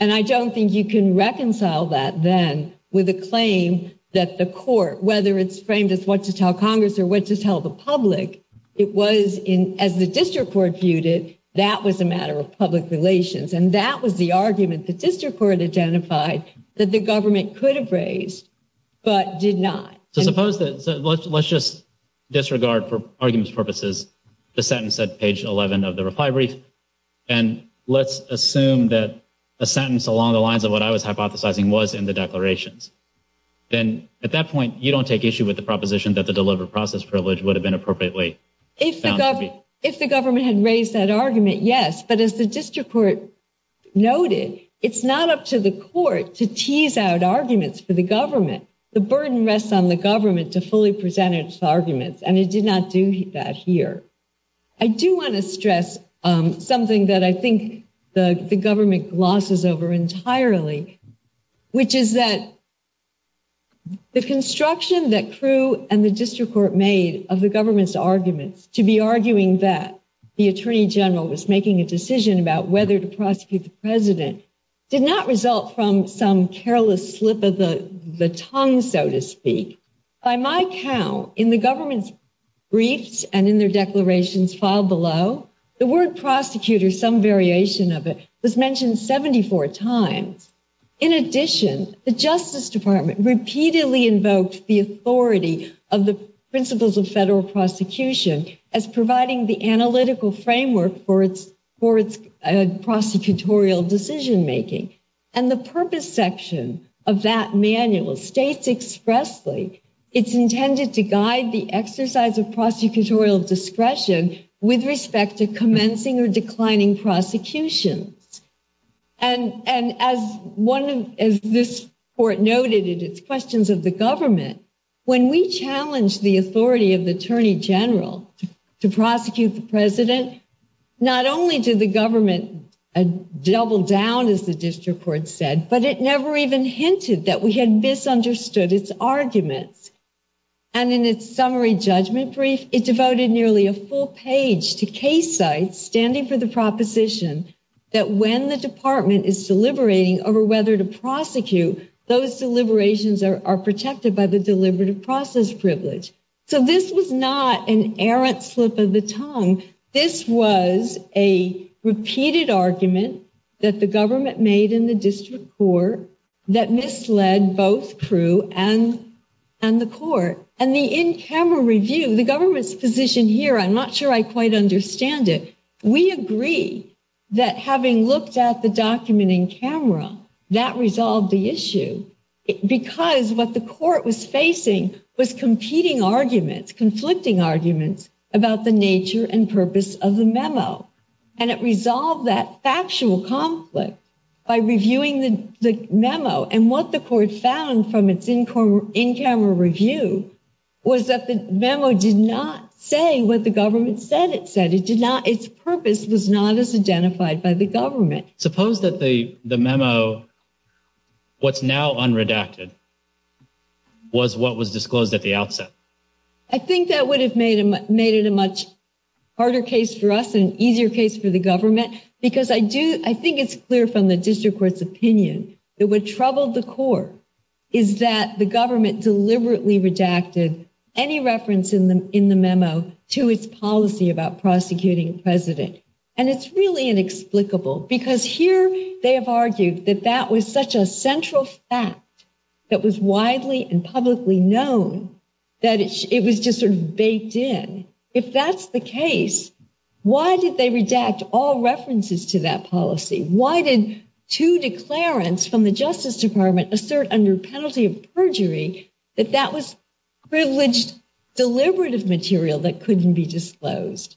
and I don't think you can reconcile that then with a claim that the court, whether it's framed as what to tell Congress or what to tell the public, it was in, as the district court viewed it, that was a matter of public relations, and that was the argument that district court identified that the government could have raised, but did not. So, let's just disregard, for arguments purposes, the sentence at page 11 of the reply brief, and let's assume that a sentence along the lines of what I was hypothesizing was in the declarations. Then, at that point, you don't take issue with the proposition that the deliberative process privilege would have been appropriately found. If the government had raised that argument, yes, but as the district court noted, it's not up to the court to tease out arguments for the government. The burden rests on the government to fully present its arguments, and it did not do that here. I do want to stress something that I think the government glosses over entirely, which is that the construction that Crewe and the district court made of the government's arguments to be arguing that the attorney general was making a decision about whether to prosecute the president did not result from some careless slip of the tongue, so to speak. By my count, in the government's briefs and in their declarations filed below, the word prosecutor, some variation of it, was mentioned 74 times. In addition, the Justice Department repeatedly invoked the authority of the principles of federal prosecution as providing the analytical framework for its prosecutorial decision making, and the purpose section of that manual states expressly it's intended to guide the exercise of prosecutorial discretion with respect to commencing or declining prosecution. And as this court noted, it is questions of the government. When we challenged the authority of the attorney general to prosecute the president, not only did the government double down, as the district court said, but it never even hinted that we had misunderstood its arguments. And in its summary judgment brief, it devoted nearly a full page to case sites standing for the proposition that when the department is deliberating over whether to prosecute, those deliberations are protected by the deliberative process privilege. So this was not an errant slip of the tongue. This was a repeated argument that the government made in the district court that misled both Crewe and the court. And the in-camera review, the government's position here, I'm not sure I quite understand it. We agree that having looked at the document in camera, that resolved the issue because what the court was facing was competing arguments, conflicting arguments about the nature and purpose of the memo. And it resolved that factual conflict by reviewing the memo. And what the court found from its in-camera review was that the memo did not say what the government said it said. Its purpose was not as identified by the government. Suppose that the memo, what's now unredacted, was what was disclosed at the outset. I think that would have made it a much harder case for us and an easier case for the government because I think it's clear from the district court's opinion that what troubled the court is that the government deliberately redacted any reference in the memo to its policy about prosecuting a president. And it's really inexplicable because here they have argued that that was such a central fact that was widely and publicly known that it was just sort of baked in. If that's the case, why did they redact all references to that policy? Why did two declarants from the Justice Department assert under penalty of perjury that that privileged deliberative material that couldn't be disclosed?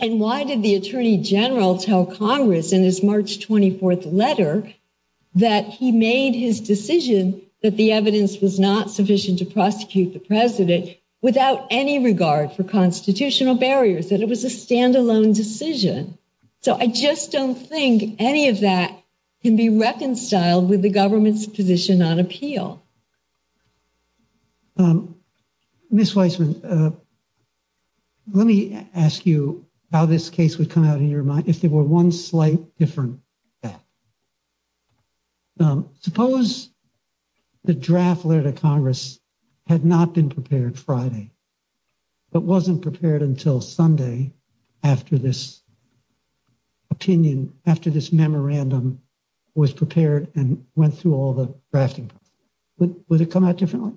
And why did the Attorney General tell Congress in his March 24th letter that he made his decision that the evidence was not sufficient to prosecute the president without any regard for constitutional barriers, that it was a standalone decision? So I just don't think any of that can be reconciled with the government's position on appeal. Um, Ms. Weisman, uh, let me ask you how this case would come out in your mind if there were one slight different. Suppose the draft letter to Congress had not been prepared Friday, but wasn't prepared until Sunday after this opinion, after this memorandum was prepared and went through all the drafting. Would it come out differently?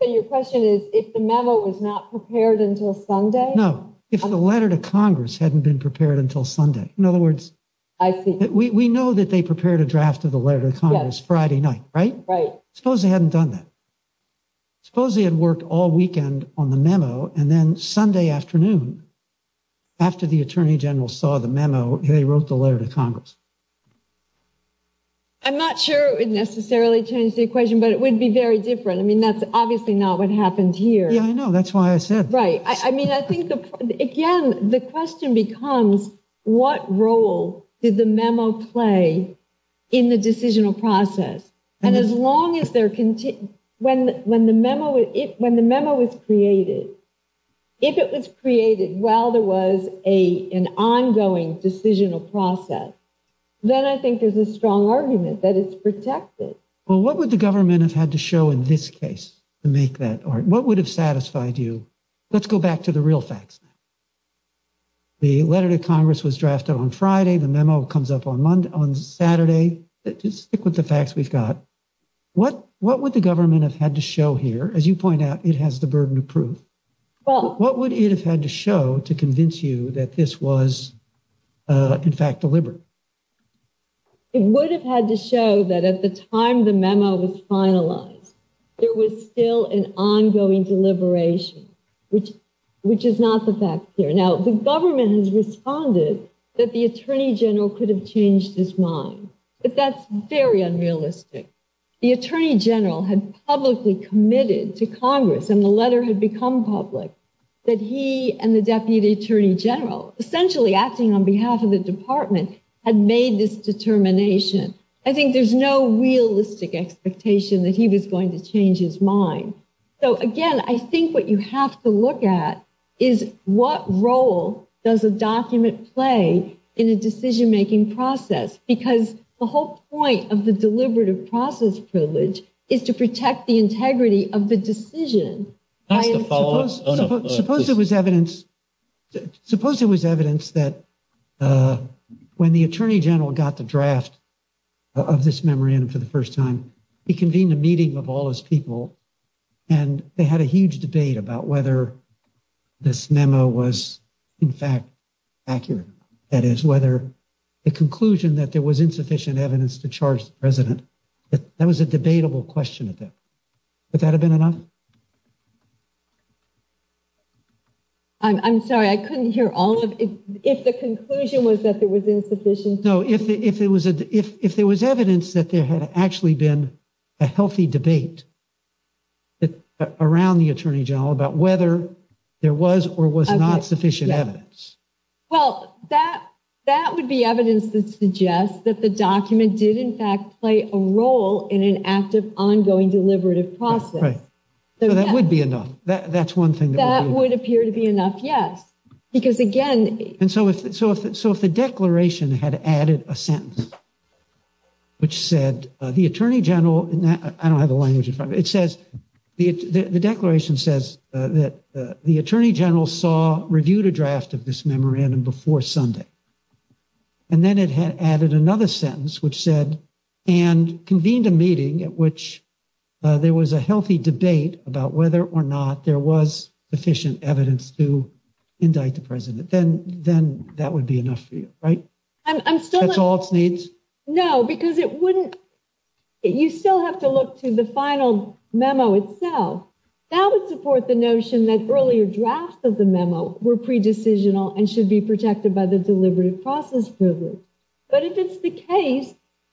So your question is if the memo was not prepared until Sunday? No, if the letter to Congress hadn't been prepared until Sunday. In other words, I think we know that they prepared a draft of the letter to Congress Friday night, right? Right. Suppose they hadn't done that. Suppose they had worked all weekend on the memo and then Sunday afternoon after the Attorney General saw the memo, they wrote the letter to Congress. I'm not sure it would necessarily change the equation, but it would be very different. I mean, that's obviously not what happened here. Yeah, I know. That's why I said. Right. I mean, I think, again, the question becomes what role did the memo play in the decisional process? And as long as they're, when the memo, when the memo was created, if it was created while there was an ongoing decisional process, then I think there's a strong argument that it's protected. Well, what would the government have had to show in this case to make that argument? What would have satisfied you? Let's go back to the real facts. The letter to Congress was drafted on Friday. The memo comes up on Monday, on Saturday. But just stick with the facts we've got. What would the government have had to show here? As you point out, it has the burden of proof. What would it have had to show to convince you that this was, in fact, deliberate? It would have had to show that at the time the memo was finalized, there was still an ongoing deliberation, which is not the fact here. Now, the government has responded that the Attorney General could have changed his mind, but that's very unrealistic. The Attorney General had publicly committed to Congress, and the letter had become public, that he and the Deputy Attorney General, essentially acting on behalf of the department, had made this determination. I think there's no realistic expectation that he was going to change his mind. So again, I think what you have to look at is what role does a document play in a decision process? Because the whole point of the deliberative process privilege is to protect the integrity of the decision. Suppose there was evidence that when the Attorney General got the draft of this memo in for the first time, he convened a meeting of all his people, and they had a huge debate about whether this memo was, in fact, accurate. That is, whether the conclusion that there was insufficient evidence to charge the President, that was a debatable question. Would that have been enough? I'm sorry, I couldn't hear all of it. If the conclusion was that there was insufficient... No, if there was evidence that there had actually been a healthy debate around the Attorney General about whether there was or was not sufficient evidence. Well, that would be evidence to suggest that the document did, in fact, play a role in an active, ongoing deliberative process. Right. So that would be enough. That's one thing. That would appear to be enough. Yes. Because again... And so if the Declaration had added a sentence which said, the Attorney General, I don't have the language, but it says, the Declaration says that the Attorney General saw, reviewed a draft of this memorandum before Sunday. And then it had added another sentence which said, and convened a meeting at which there was a healthy debate about whether or not there was sufficient evidence to indict the President, then that would be enough for you. Right? I'm still... That's all it needs? No, because it wouldn't... You still have to look through the final memo itself. That would support the notion that earlier drafts of the memo were pre-decisional and should be protected by the Delivery Process Provision. But if it's the case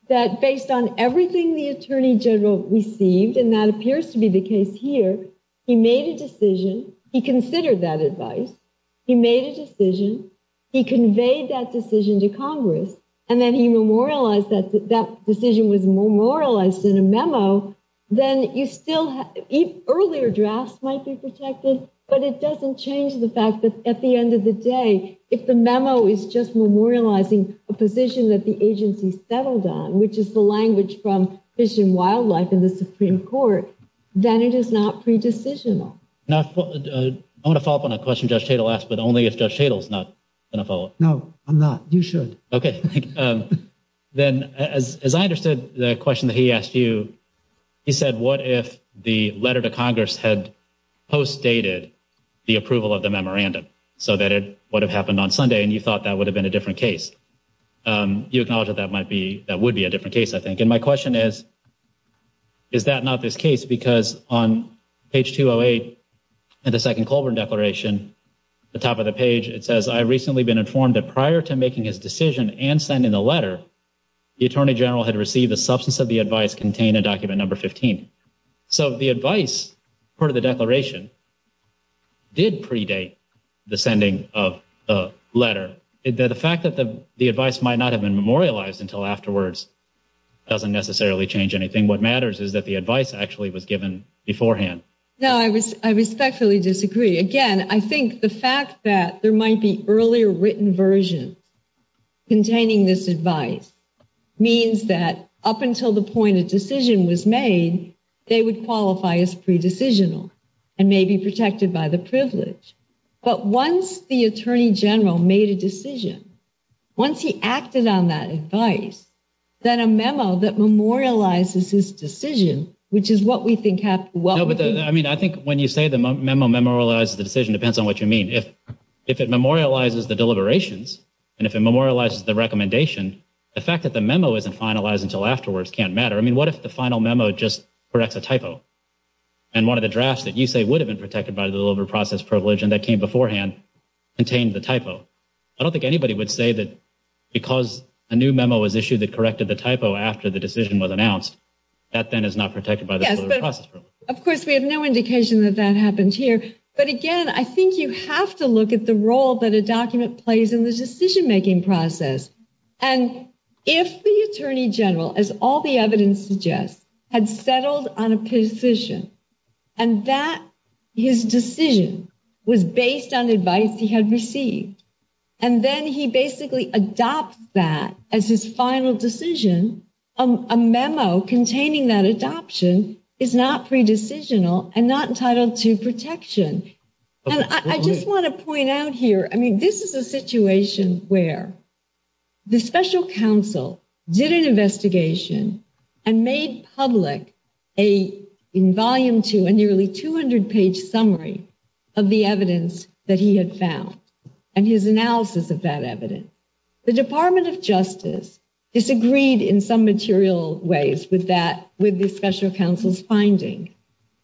that based on everything the Attorney General received, and that appears to be the case here, he made a decision, he considered that advice, he made a decision, he conveyed that decision to Congress, and then he memorialized that decision was memorialized in a memo, then you still have... Earlier drafts might be protected, but it doesn't change the fact that at the end of the day, if the memo is just memorializing a position that the agency settled on, which is the language from Fish and Wildlife and the Supreme Court, then it is not pre-decisional. Now, I want to follow up on a question Judge Schadl asked, but only if Judge Schadl is not going to follow up. No, I'm not. You should. Okay. Then, as I understood the question that he asked you, he said, what if the letter to Congress had post-dated the approval of the memorandum so that it would have happened on Sunday, and you thought that would have been a different case? Do you acknowledge that that might be... That would be a different case, I think. And my question is, is that not this case? Because on page 208 in the second Colburn Declaration, the top of the page, it says, I've recently been informed that prior to making his decision and sending the letter, the Attorney General had received a substance of the advice contained in document number 15. So the advice for the declaration did predate the sending of the letter. The fact that the advice might not have been memorialized until afterwards doesn't necessarily change anything. What matters is that the advice actually was given beforehand. No, I respectfully disagree. Again, I think the fact that there might be earlier written version containing this advice means that up until the point a decision was made, they would qualify as pre-decisional and may be protected by the privilege. But once the Attorney General made a decision, once he acted on that advice, then a memo that memorializes his decision, which is what we think happened... I mean, I think when you say the memo memorializes the decision, it depends on what you mean. If it memorializes the deliberations and if it memorializes the recommendation, the fact that the memo isn't finalized until afterwards can't matter. I mean, what if the final memo just corrects a typo? And one of the drafts that you say would have been protected by the delivery process privilege and that came beforehand contained the typo. I don't think anybody would say that because a new memo was issued that corrected the typo after the decision was announced, that then is not protected by the delivery process privilege. Of course, we have no indication that that happened here. But again, I think you have to look at the role that a document plays in the decision making process. And if the Attorney General, as all the evidence suggests, had settled on a position and that his decision was based on advice he had received, and then he basically adopts that as his final decision, a memo containing that adoption is not pre-decisional and not entitled to protection. And I just want to point out here, I mean, this is a situation where the special counsel did an investigation and made public a, in volume two, a nearly 200-page summary of the evidence that he had found and his analysis of that evidence. The Department of Justice disagreed in some material ways with that, with the special counsel's finding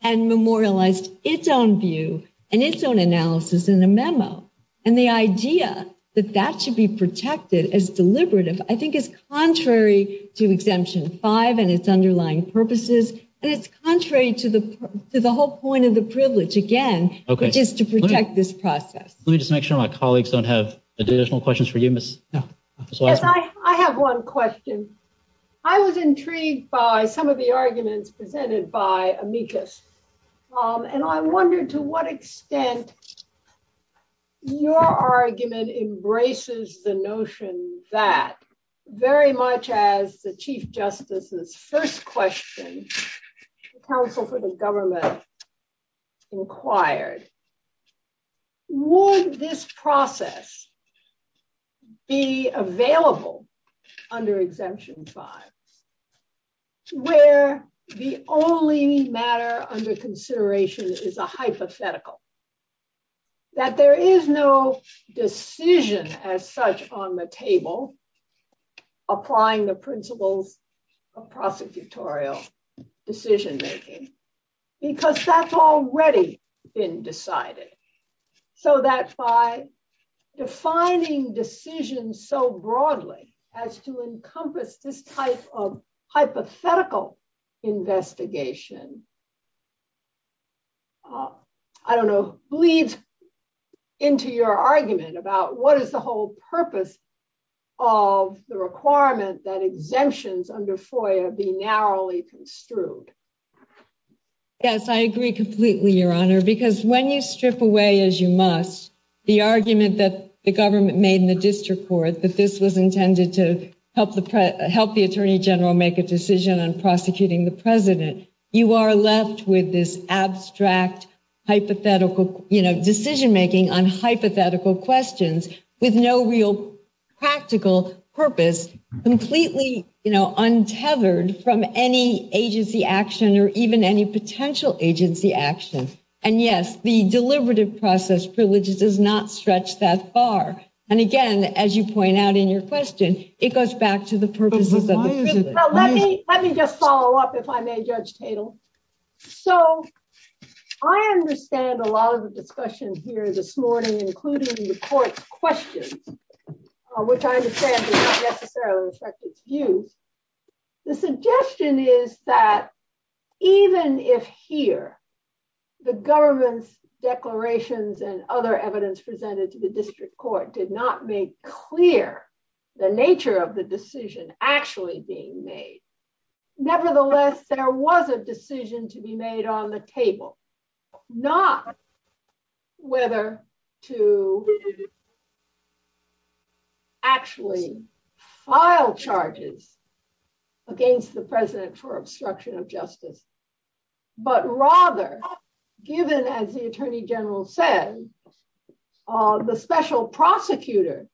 and memorialized its own view and its own analysis in the memo. And the idea that that should be protected as deliberative, I think is contrary to Exemption 5 and its underlying purposes. And it's contrary to the whole point of the privilege, again, which is to protect this process. Let me just make sure my colleagues don't have additional questions for you, Miss. I have one question. I was intrigued by some of the arguments presented by Amicus. And I wondered to what extent your argument embraces the notion that, very much as the Chief Justice's first question, the counsel for the government required. Would this process be available under Exemption 5, where the only matter under consideration is a hypothetical? That there is no decision as such on the table applying the principles of prosecutorial decision-making, because that's already been decided. So that by defining decisions so broadly as to encompass this type of hypothetical investigation, I don't know, bleeds into your argument about what is the whole purpose of the requirement that exemptions under FOIA be narrowly construed. Yes, I agree completely, Your Honor. Because when you strip away, as you must, the argument that the government made in the district court that this was intended to help the Attorney General make a decision on prosecuting the president, you are left with this abstract decision-making on hypothetical questions with no real practical purpose, completely untethered from any agency action or even any potential agency action. And yes, the deliberative process privilege does not stretch that far. And again, as you point out in your question, it goes back to the purpose of the decision. Let me just follow up, if I may, Judge Tatel. So I understand a lot of the discussion here this morning, including the court's question, which I understand does not necessarily reflect its view. The suggestion is that even if here the government's declarations and other evidence presented to the district court did not make clear the nature of the decision actually being made, nevertheless, there was a decision to be made on the table, not whether to actually file charges against the president for obstruction of justice, but rather, given, as the Attorney General said, the special prosecutor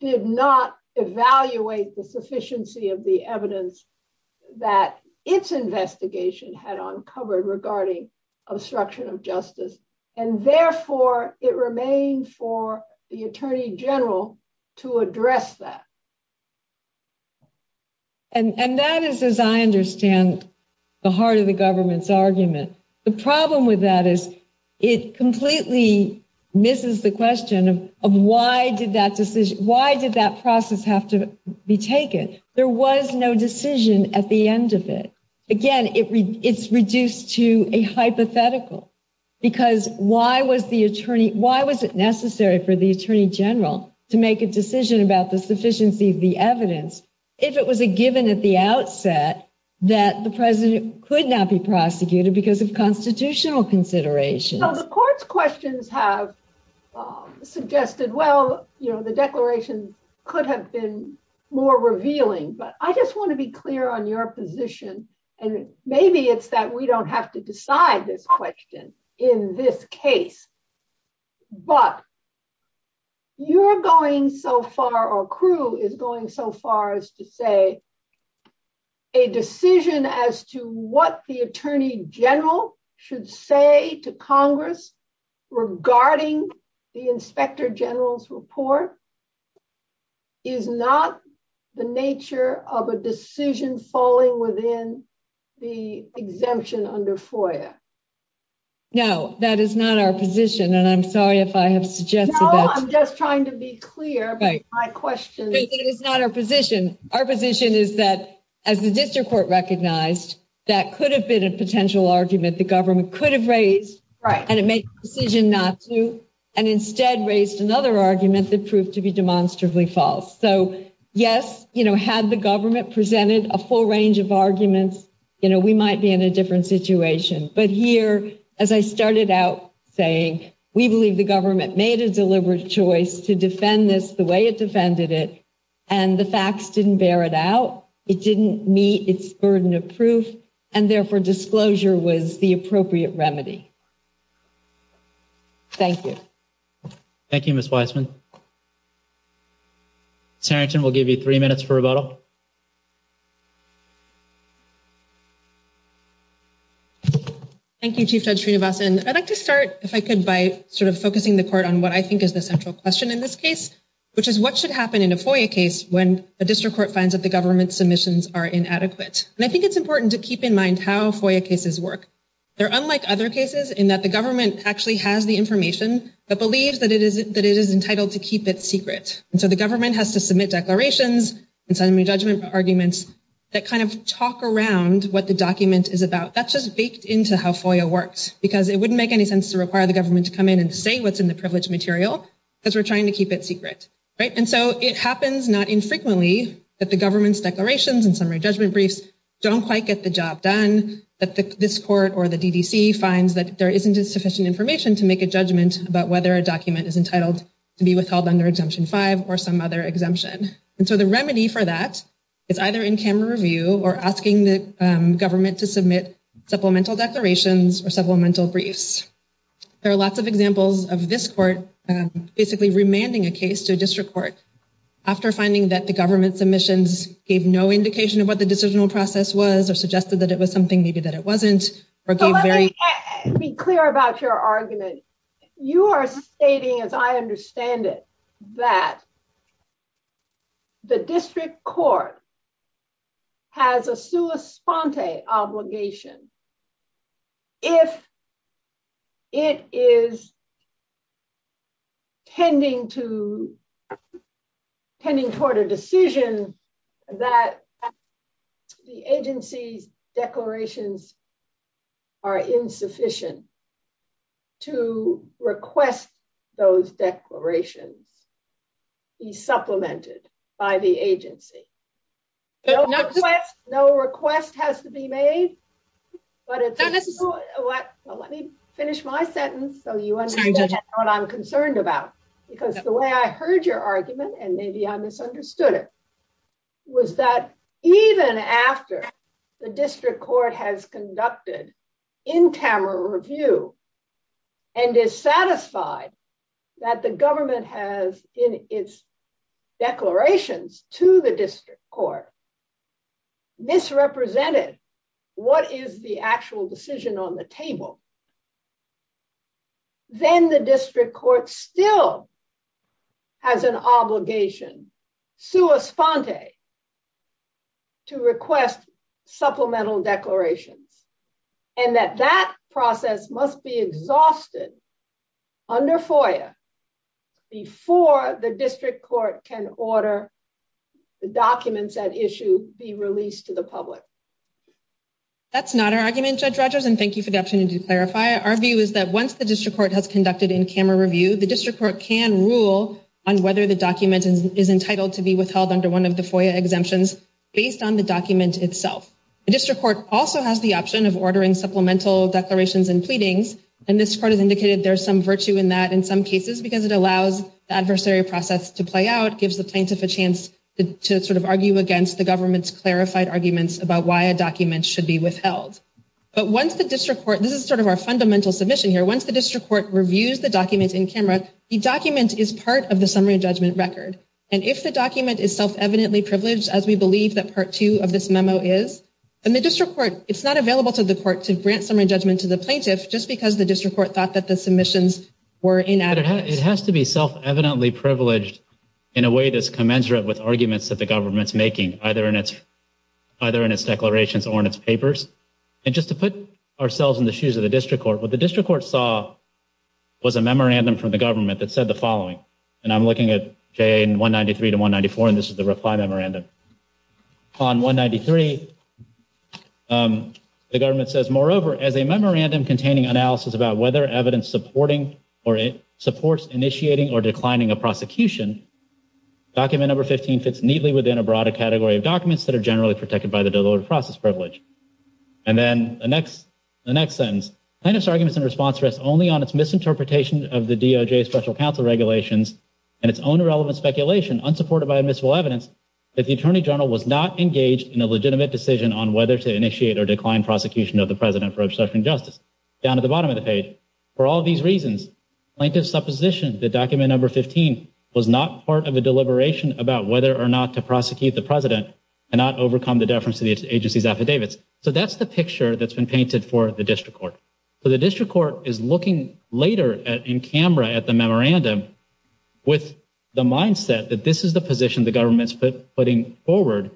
did not evaluate the sufficiency of the evidence that its investigation had uncovered regarding obstruction of justice. And therefore, it remains for the Attorney General to address that. And that is, as I understand, the heart of the government's argument. The problem with that is it completely misses the question of why did that decision, why did that process have to be taken? There was no decision at the end of it. Again, it's reduced to a hypothetical, because why was it necessary for the Attorney General to make a decision about the sufficiency of the evidence if it was a given at the outset that the president could not be prosecuted because of constitutional consideration? The court's questions have suggested, well, the declaration could have been more revealing, but I just want to be clear on your position. And maybe it's that we don't have to decide this question in this case, but you're going so far, or Crue is going so far as to say a decision as to what the Attorney General should say to Congress regarding the Inspector General's report is not the nature of a decision falling within the exemption under FOIA. No, that is not our position. And I'm sorry if I have suggested that. No, I'm just trying to be clear with my questions. It is not our position. Our position is that, as the district court recognized, that could have been a potential argument the government could have raised, and it made the decision not to, and instead raised another argument that proved to be demonstrably false. So yes, had the government presented a full range of arguments, we might be in a different situation. But here, as I started out saying, we believe the government made a deliberate choice to defend this the way it defended it, and the facts didn't bear it out. It didn't meet its burden of proof, and therefore disclosure was the appropriate remedy. Thank you. Thank you, Ms. Weisman. Tarrington, we'll give you three minutes for rebuttal. Thank you, Chief Judge Srinivasan. I'd like to start, if I could, by sort of focusing the court on what I think is the central question in this case, which is what should happen in a FOIA case when a district court finds that the government's submissions are inadequate? And I think it's important to keep in mind how FOIA cases work. They're unlike other cases in that the government actually has the information, but believes that it is entitled to keep it secret. And so the government has to submit declarations, and suddenly judgment arguments that kind of talk around what the document is about. That's just baked into how FOIA works, because it wouldn't make any sense to require the government to come in and say what's in the privileged material, because we're trying to keep it secret, right? And so it happens, not infrequently, that the government's declarations and summary judgment briefs don't quite get the job done, that this court or the DDC finds that there isn't sufficient information to make a judgment about whether a document is entitled to be withheld under Exemption 5 or some other exemption. And so the remedy for that is either in-camera review or asking the government to submit supplemental declarations or supplemental briefs. There are lots of examples of this court basically remanding a case to a district court after finding that the government submissions gave no indication of what the decisional process was, or suggested that it was something maybe that it wasn't, or gave very- Let me be clear about your argument. You are stating, as I understand it, that the district court has a sua sponte obligation if it is tending toward a decision that the agency's declarations are insufficient to request those declarations be supplemented by the agency. No request has to be made. But let me finish my sentence so you understand what I'm concerned about. Because the way I heard your argument, and maybe I misunderstood it, was that even after the district court has conducted in-camera review and is satisfied that the government has in its declarations to the district court misrepresented what is the actual decision on the table, then the district court still has an obligation sua sponte to request supplemental declarations, and that that process must be exhausted under FOIA before the district court can order the documents at issue be released to the public. That's not our argument, Judge Rogers, and thank you for that opportunity to clarify. Our view is that once the district court has conducted in-camera review, the district court can rule on whether the document is entitled to be withheld under one of the FOIA exemptions based on the document itself. The district court also has the option of ordering supplemental declarations and pleadings, and this part has indicated there's some virtue in that in some cases because it allows the adversary process to play out, gives the plaintiff a chance to sort of argue against the government's clarified arguments about why a document should be withheld. But once the district court, this is sort of our fundamental submission here, once the district court reviews the document in-camera, the document is part of the summary judgment record, and if the document is self-evidently privileged, as we believe that part two of this memo is, and the district court, it's not available to the court to grant summary judgment to the plaintiff just because the district court thought that the submissions were inadequate. It has to be self-evidently privileged in a way that's commensurate with arguments that the government's making, either in its declarations or in its papers. And just to put ourselves in the shoes of the district court, what the district court saw was a memorandum from the government that said the following, and I'm looking at J193 to 194, and this is the reply memorandum. On 193, the government says, moreover, as a memorandum containing analysis about whether evidence supporting or supports initiating or declining a prosecution, document number 15 fits neatly within a broader category of documents that are generally protected by the deliberative process privilege. And then the next sentence, plaintiff's arguments and response rest only on its misinterpretation of the DOJ special counsel regulations and its own irrelevant speculation unsupported by admissible evidence that the attorney general was not engaged in a legitimate decision on whether to initiate or decline prosecution of the president for obstruction of justice, down at the bottom of the page. For all these reasons, plaintiff's supposition that document number 15 was not part of a deliberation about whether or not to prosecute the president and not overcome the deference to the agency's affidavits. So that's the picture that's been painted for the district court. So the district court is looking later in camera at the memorandum with the mindset that this is the position the government's putting forward.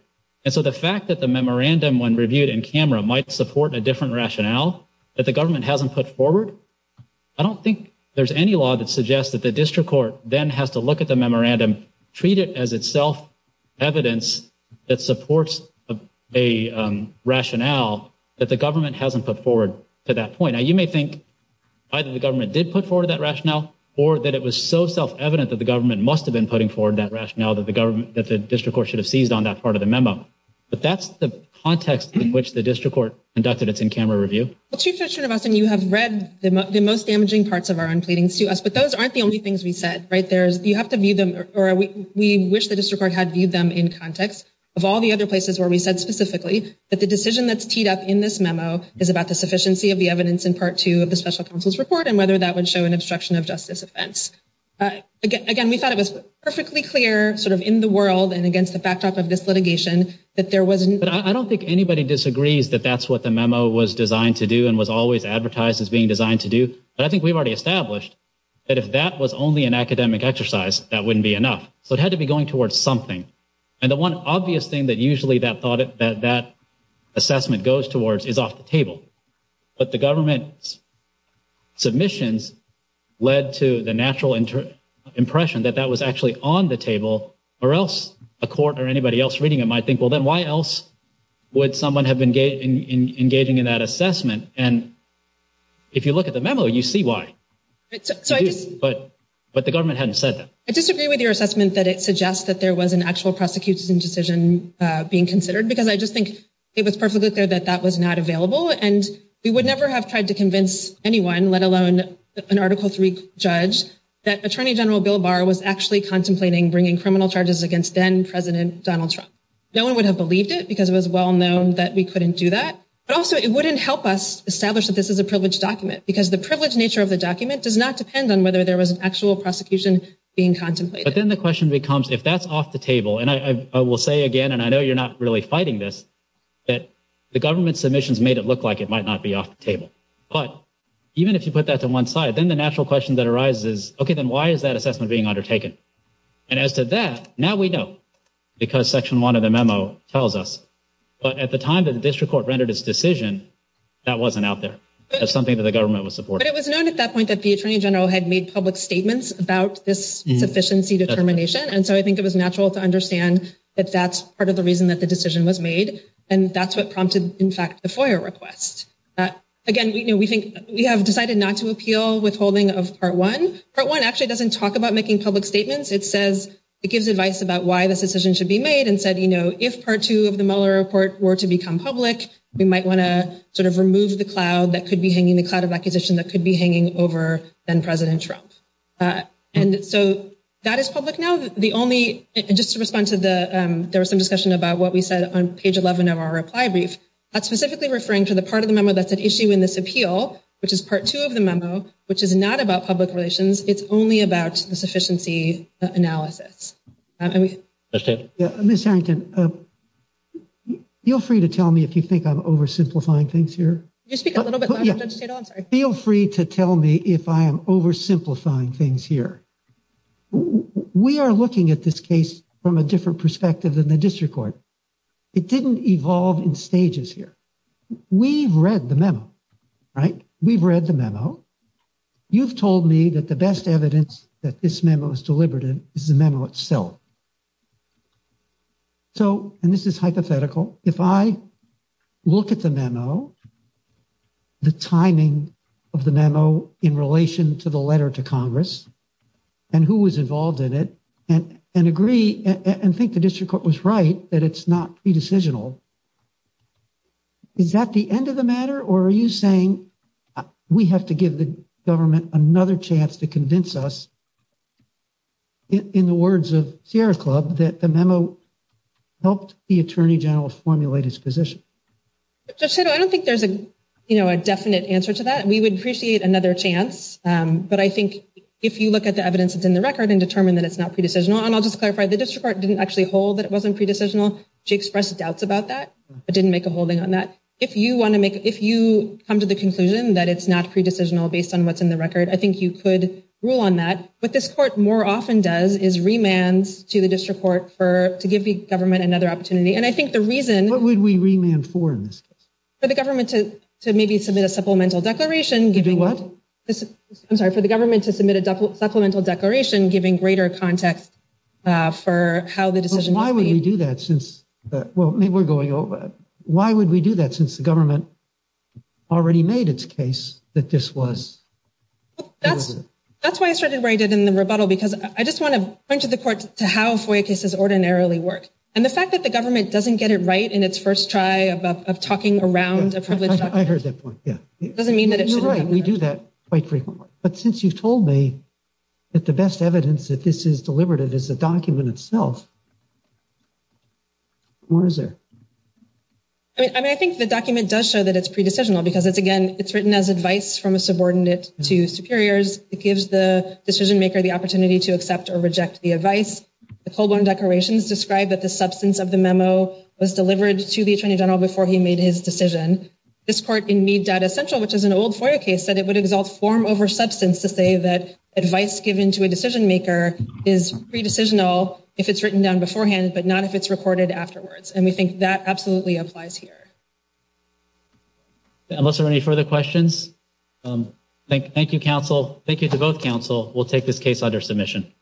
And so the fact that the memorandum, when reviewed in camera, might support a different rationale that the government hasn't put forward, I don't think there's any law that suggests that the district court then has to look at the memorandum, treat it as itself evidence that supports a rationale that the government hasn't put forward to that point. Now, you may think either the government did put forward that rationale or that it was so self-evident that the government must have been putting forward that rationale that the government, that the district court should have seized on that part of the memo. But that's the context in which the district court conducted its in-camera review. Well, Chief Justice Schoonemason, you have read the most damaging parts of our own pleadings to us, but those aren't the only things we said, right? There's, you have to view them, or we wish the district court had viewed them in context of all the other places where we said specifically that the decision that's teed up in this memo is about the sufficiency of the evidence in part two of the special counsel's report and whether that would show an obstruction of justice offense. Again, we thought it was perfectly clear sort of in the world and against the backdrop of this litigation that there wasn't- But I don't think anybody disagrees that that's what the memo was designed to do and was always advertised as being designed to do. But I think we've already established that if that was only an academic exercise, that wouldn't be enough. So it had to be going towards something. And the one obvious thing that usually that assessment goes towards is off the table. But the government's submissions led to the natural impression that that was actually on the table or else the court or anybody else reading it might think, well, then why else would someone have been engaging in that assessment? And if you look at the memo, you see why. But the government hadn't said that. I disagree with your assessment that it suggests that there was an actual prosecution decision being considered because I just think it was perfectly clear that that was not available. And we would never have tried to convince anyone, let alone an article three judge, that Attorney General Bill Barr was actually contemplating bringing criminal charges against then President Donald Trump. No one would have believed it because it was well known that we couldn't do that. But also it wouldn't help us establish that this is a privileged document because the privileged nature of the document does not depend on whether there was an actual prosecution being contemplated. But then the question becomes, if that's off the table, and I will say again, and I know you're not really fighting this, that the government submissions made it look like it might not be off the table. But even if you put that to one side, then the natural question that arises, okay, then why is that assessment being undertaken? And as to that, now we know because section one of the memo tells us. But at the time that the district court rendered its decision, that wasn't out there. That's something that the government would support. But it was known at that point that the Attorney General had made public statements about this sufficiency determination. And so I think it was natural to understand that that's part of the reason that the decision was made. And that's what prompted, in fact, the FOIA request. Again, we have decided not to appeal withholding of part one. Part one actually doesn't talk about making public statements. It gives advice about why this decision should be made and said, if part two of the Mueller report were to become public, we might want to sort of remove the cloud that could be hanging, the cloud of acquisition that could be hanging over then President Trump. And so that is public now. The only, just to respond to the, there was some discussion about what we said on page 11 of our reply brief. That's specifically referring to the part of the memo that's an issue in this appeal, which is part two of the memo, which is not about public relations. It's only about the sufficiency analysis. Yeah, Ms. Harrington, feel free to tell me if you think I'm oversimplifying things here. You speak a little bit. Feel free to tell me if I am oversimplifying things here. We are looking at this case from a different perspective than the district court. It didn't evolve in stages here. We've read the memo, right? We've read the memo. You've told me that the best evidence that this memo is deliberative is the memo itself. So, and this is hypothetical. If I look at the memo, the timing of the memo in relation to the letter to Congress, and who was involved in it, and agree and think the district court was right, that it's not pre-decisional, is that the end of the matter? Or are you saying we have to give the government another chance to convince us in the words of Sierra Club that the memo helped the attorney general formulate his position? I don't think there's a definite answer to that. We would appreciate another chance. But I think if you look at the evidence that's in the record and determine that it's not pre-decisional, and I'll just clarify, the district court didn't actually hold that it wasn't pre-decisional. She expressed doubts about that, but didn't make a holding on that. If you want to make, if you come to the conclusion that it's not pre-decisional based on what's in the record, I think you could rule on that. What this court more often does is remand to the district court for, to give the government another opportunity. And I think the reason- What would we remand for? For the government to maybe submit a supplemental declaration- To do what? I'm sorry, for the government to submit a supplemental declaration giving greater context for how the decision- Why would we do that since, well, maybe we're going over it. Why would we do that since the government already made its case that this was pre-decisional? That's why I started writing in the rebuttal, because I just want to point to the court to how FOIA cases ordinarily work, and the fact that the government doesn't get it right in its first try of talking around a published document- I heard that point, yeah. Doesn't mean that it should- You're right, we do that quite frequently. But since you've told me that the best evidence that this is deliberative is the document itself, where is it? And I think the document does show that it's pre-decisional because it's, again, it's written as advice from a subordinate to superiors. It gives the decision-maker the opportunity to accept or reject the advice. The full-blown declaration described that the substance of the memo was delivered to the attorney general before he made his decision. This court in Need Data Central, which is an old FOIA case, said it would exalt form over substance to say that advice given to a decision-maker is pre-decisional if it's written down beforehand, but not if it's recorded afterwards. And we think that absolutely applies here. Okay, unless there are any further questions, thank you, counsel. Thank you to both counsel. We'll take this case under submission.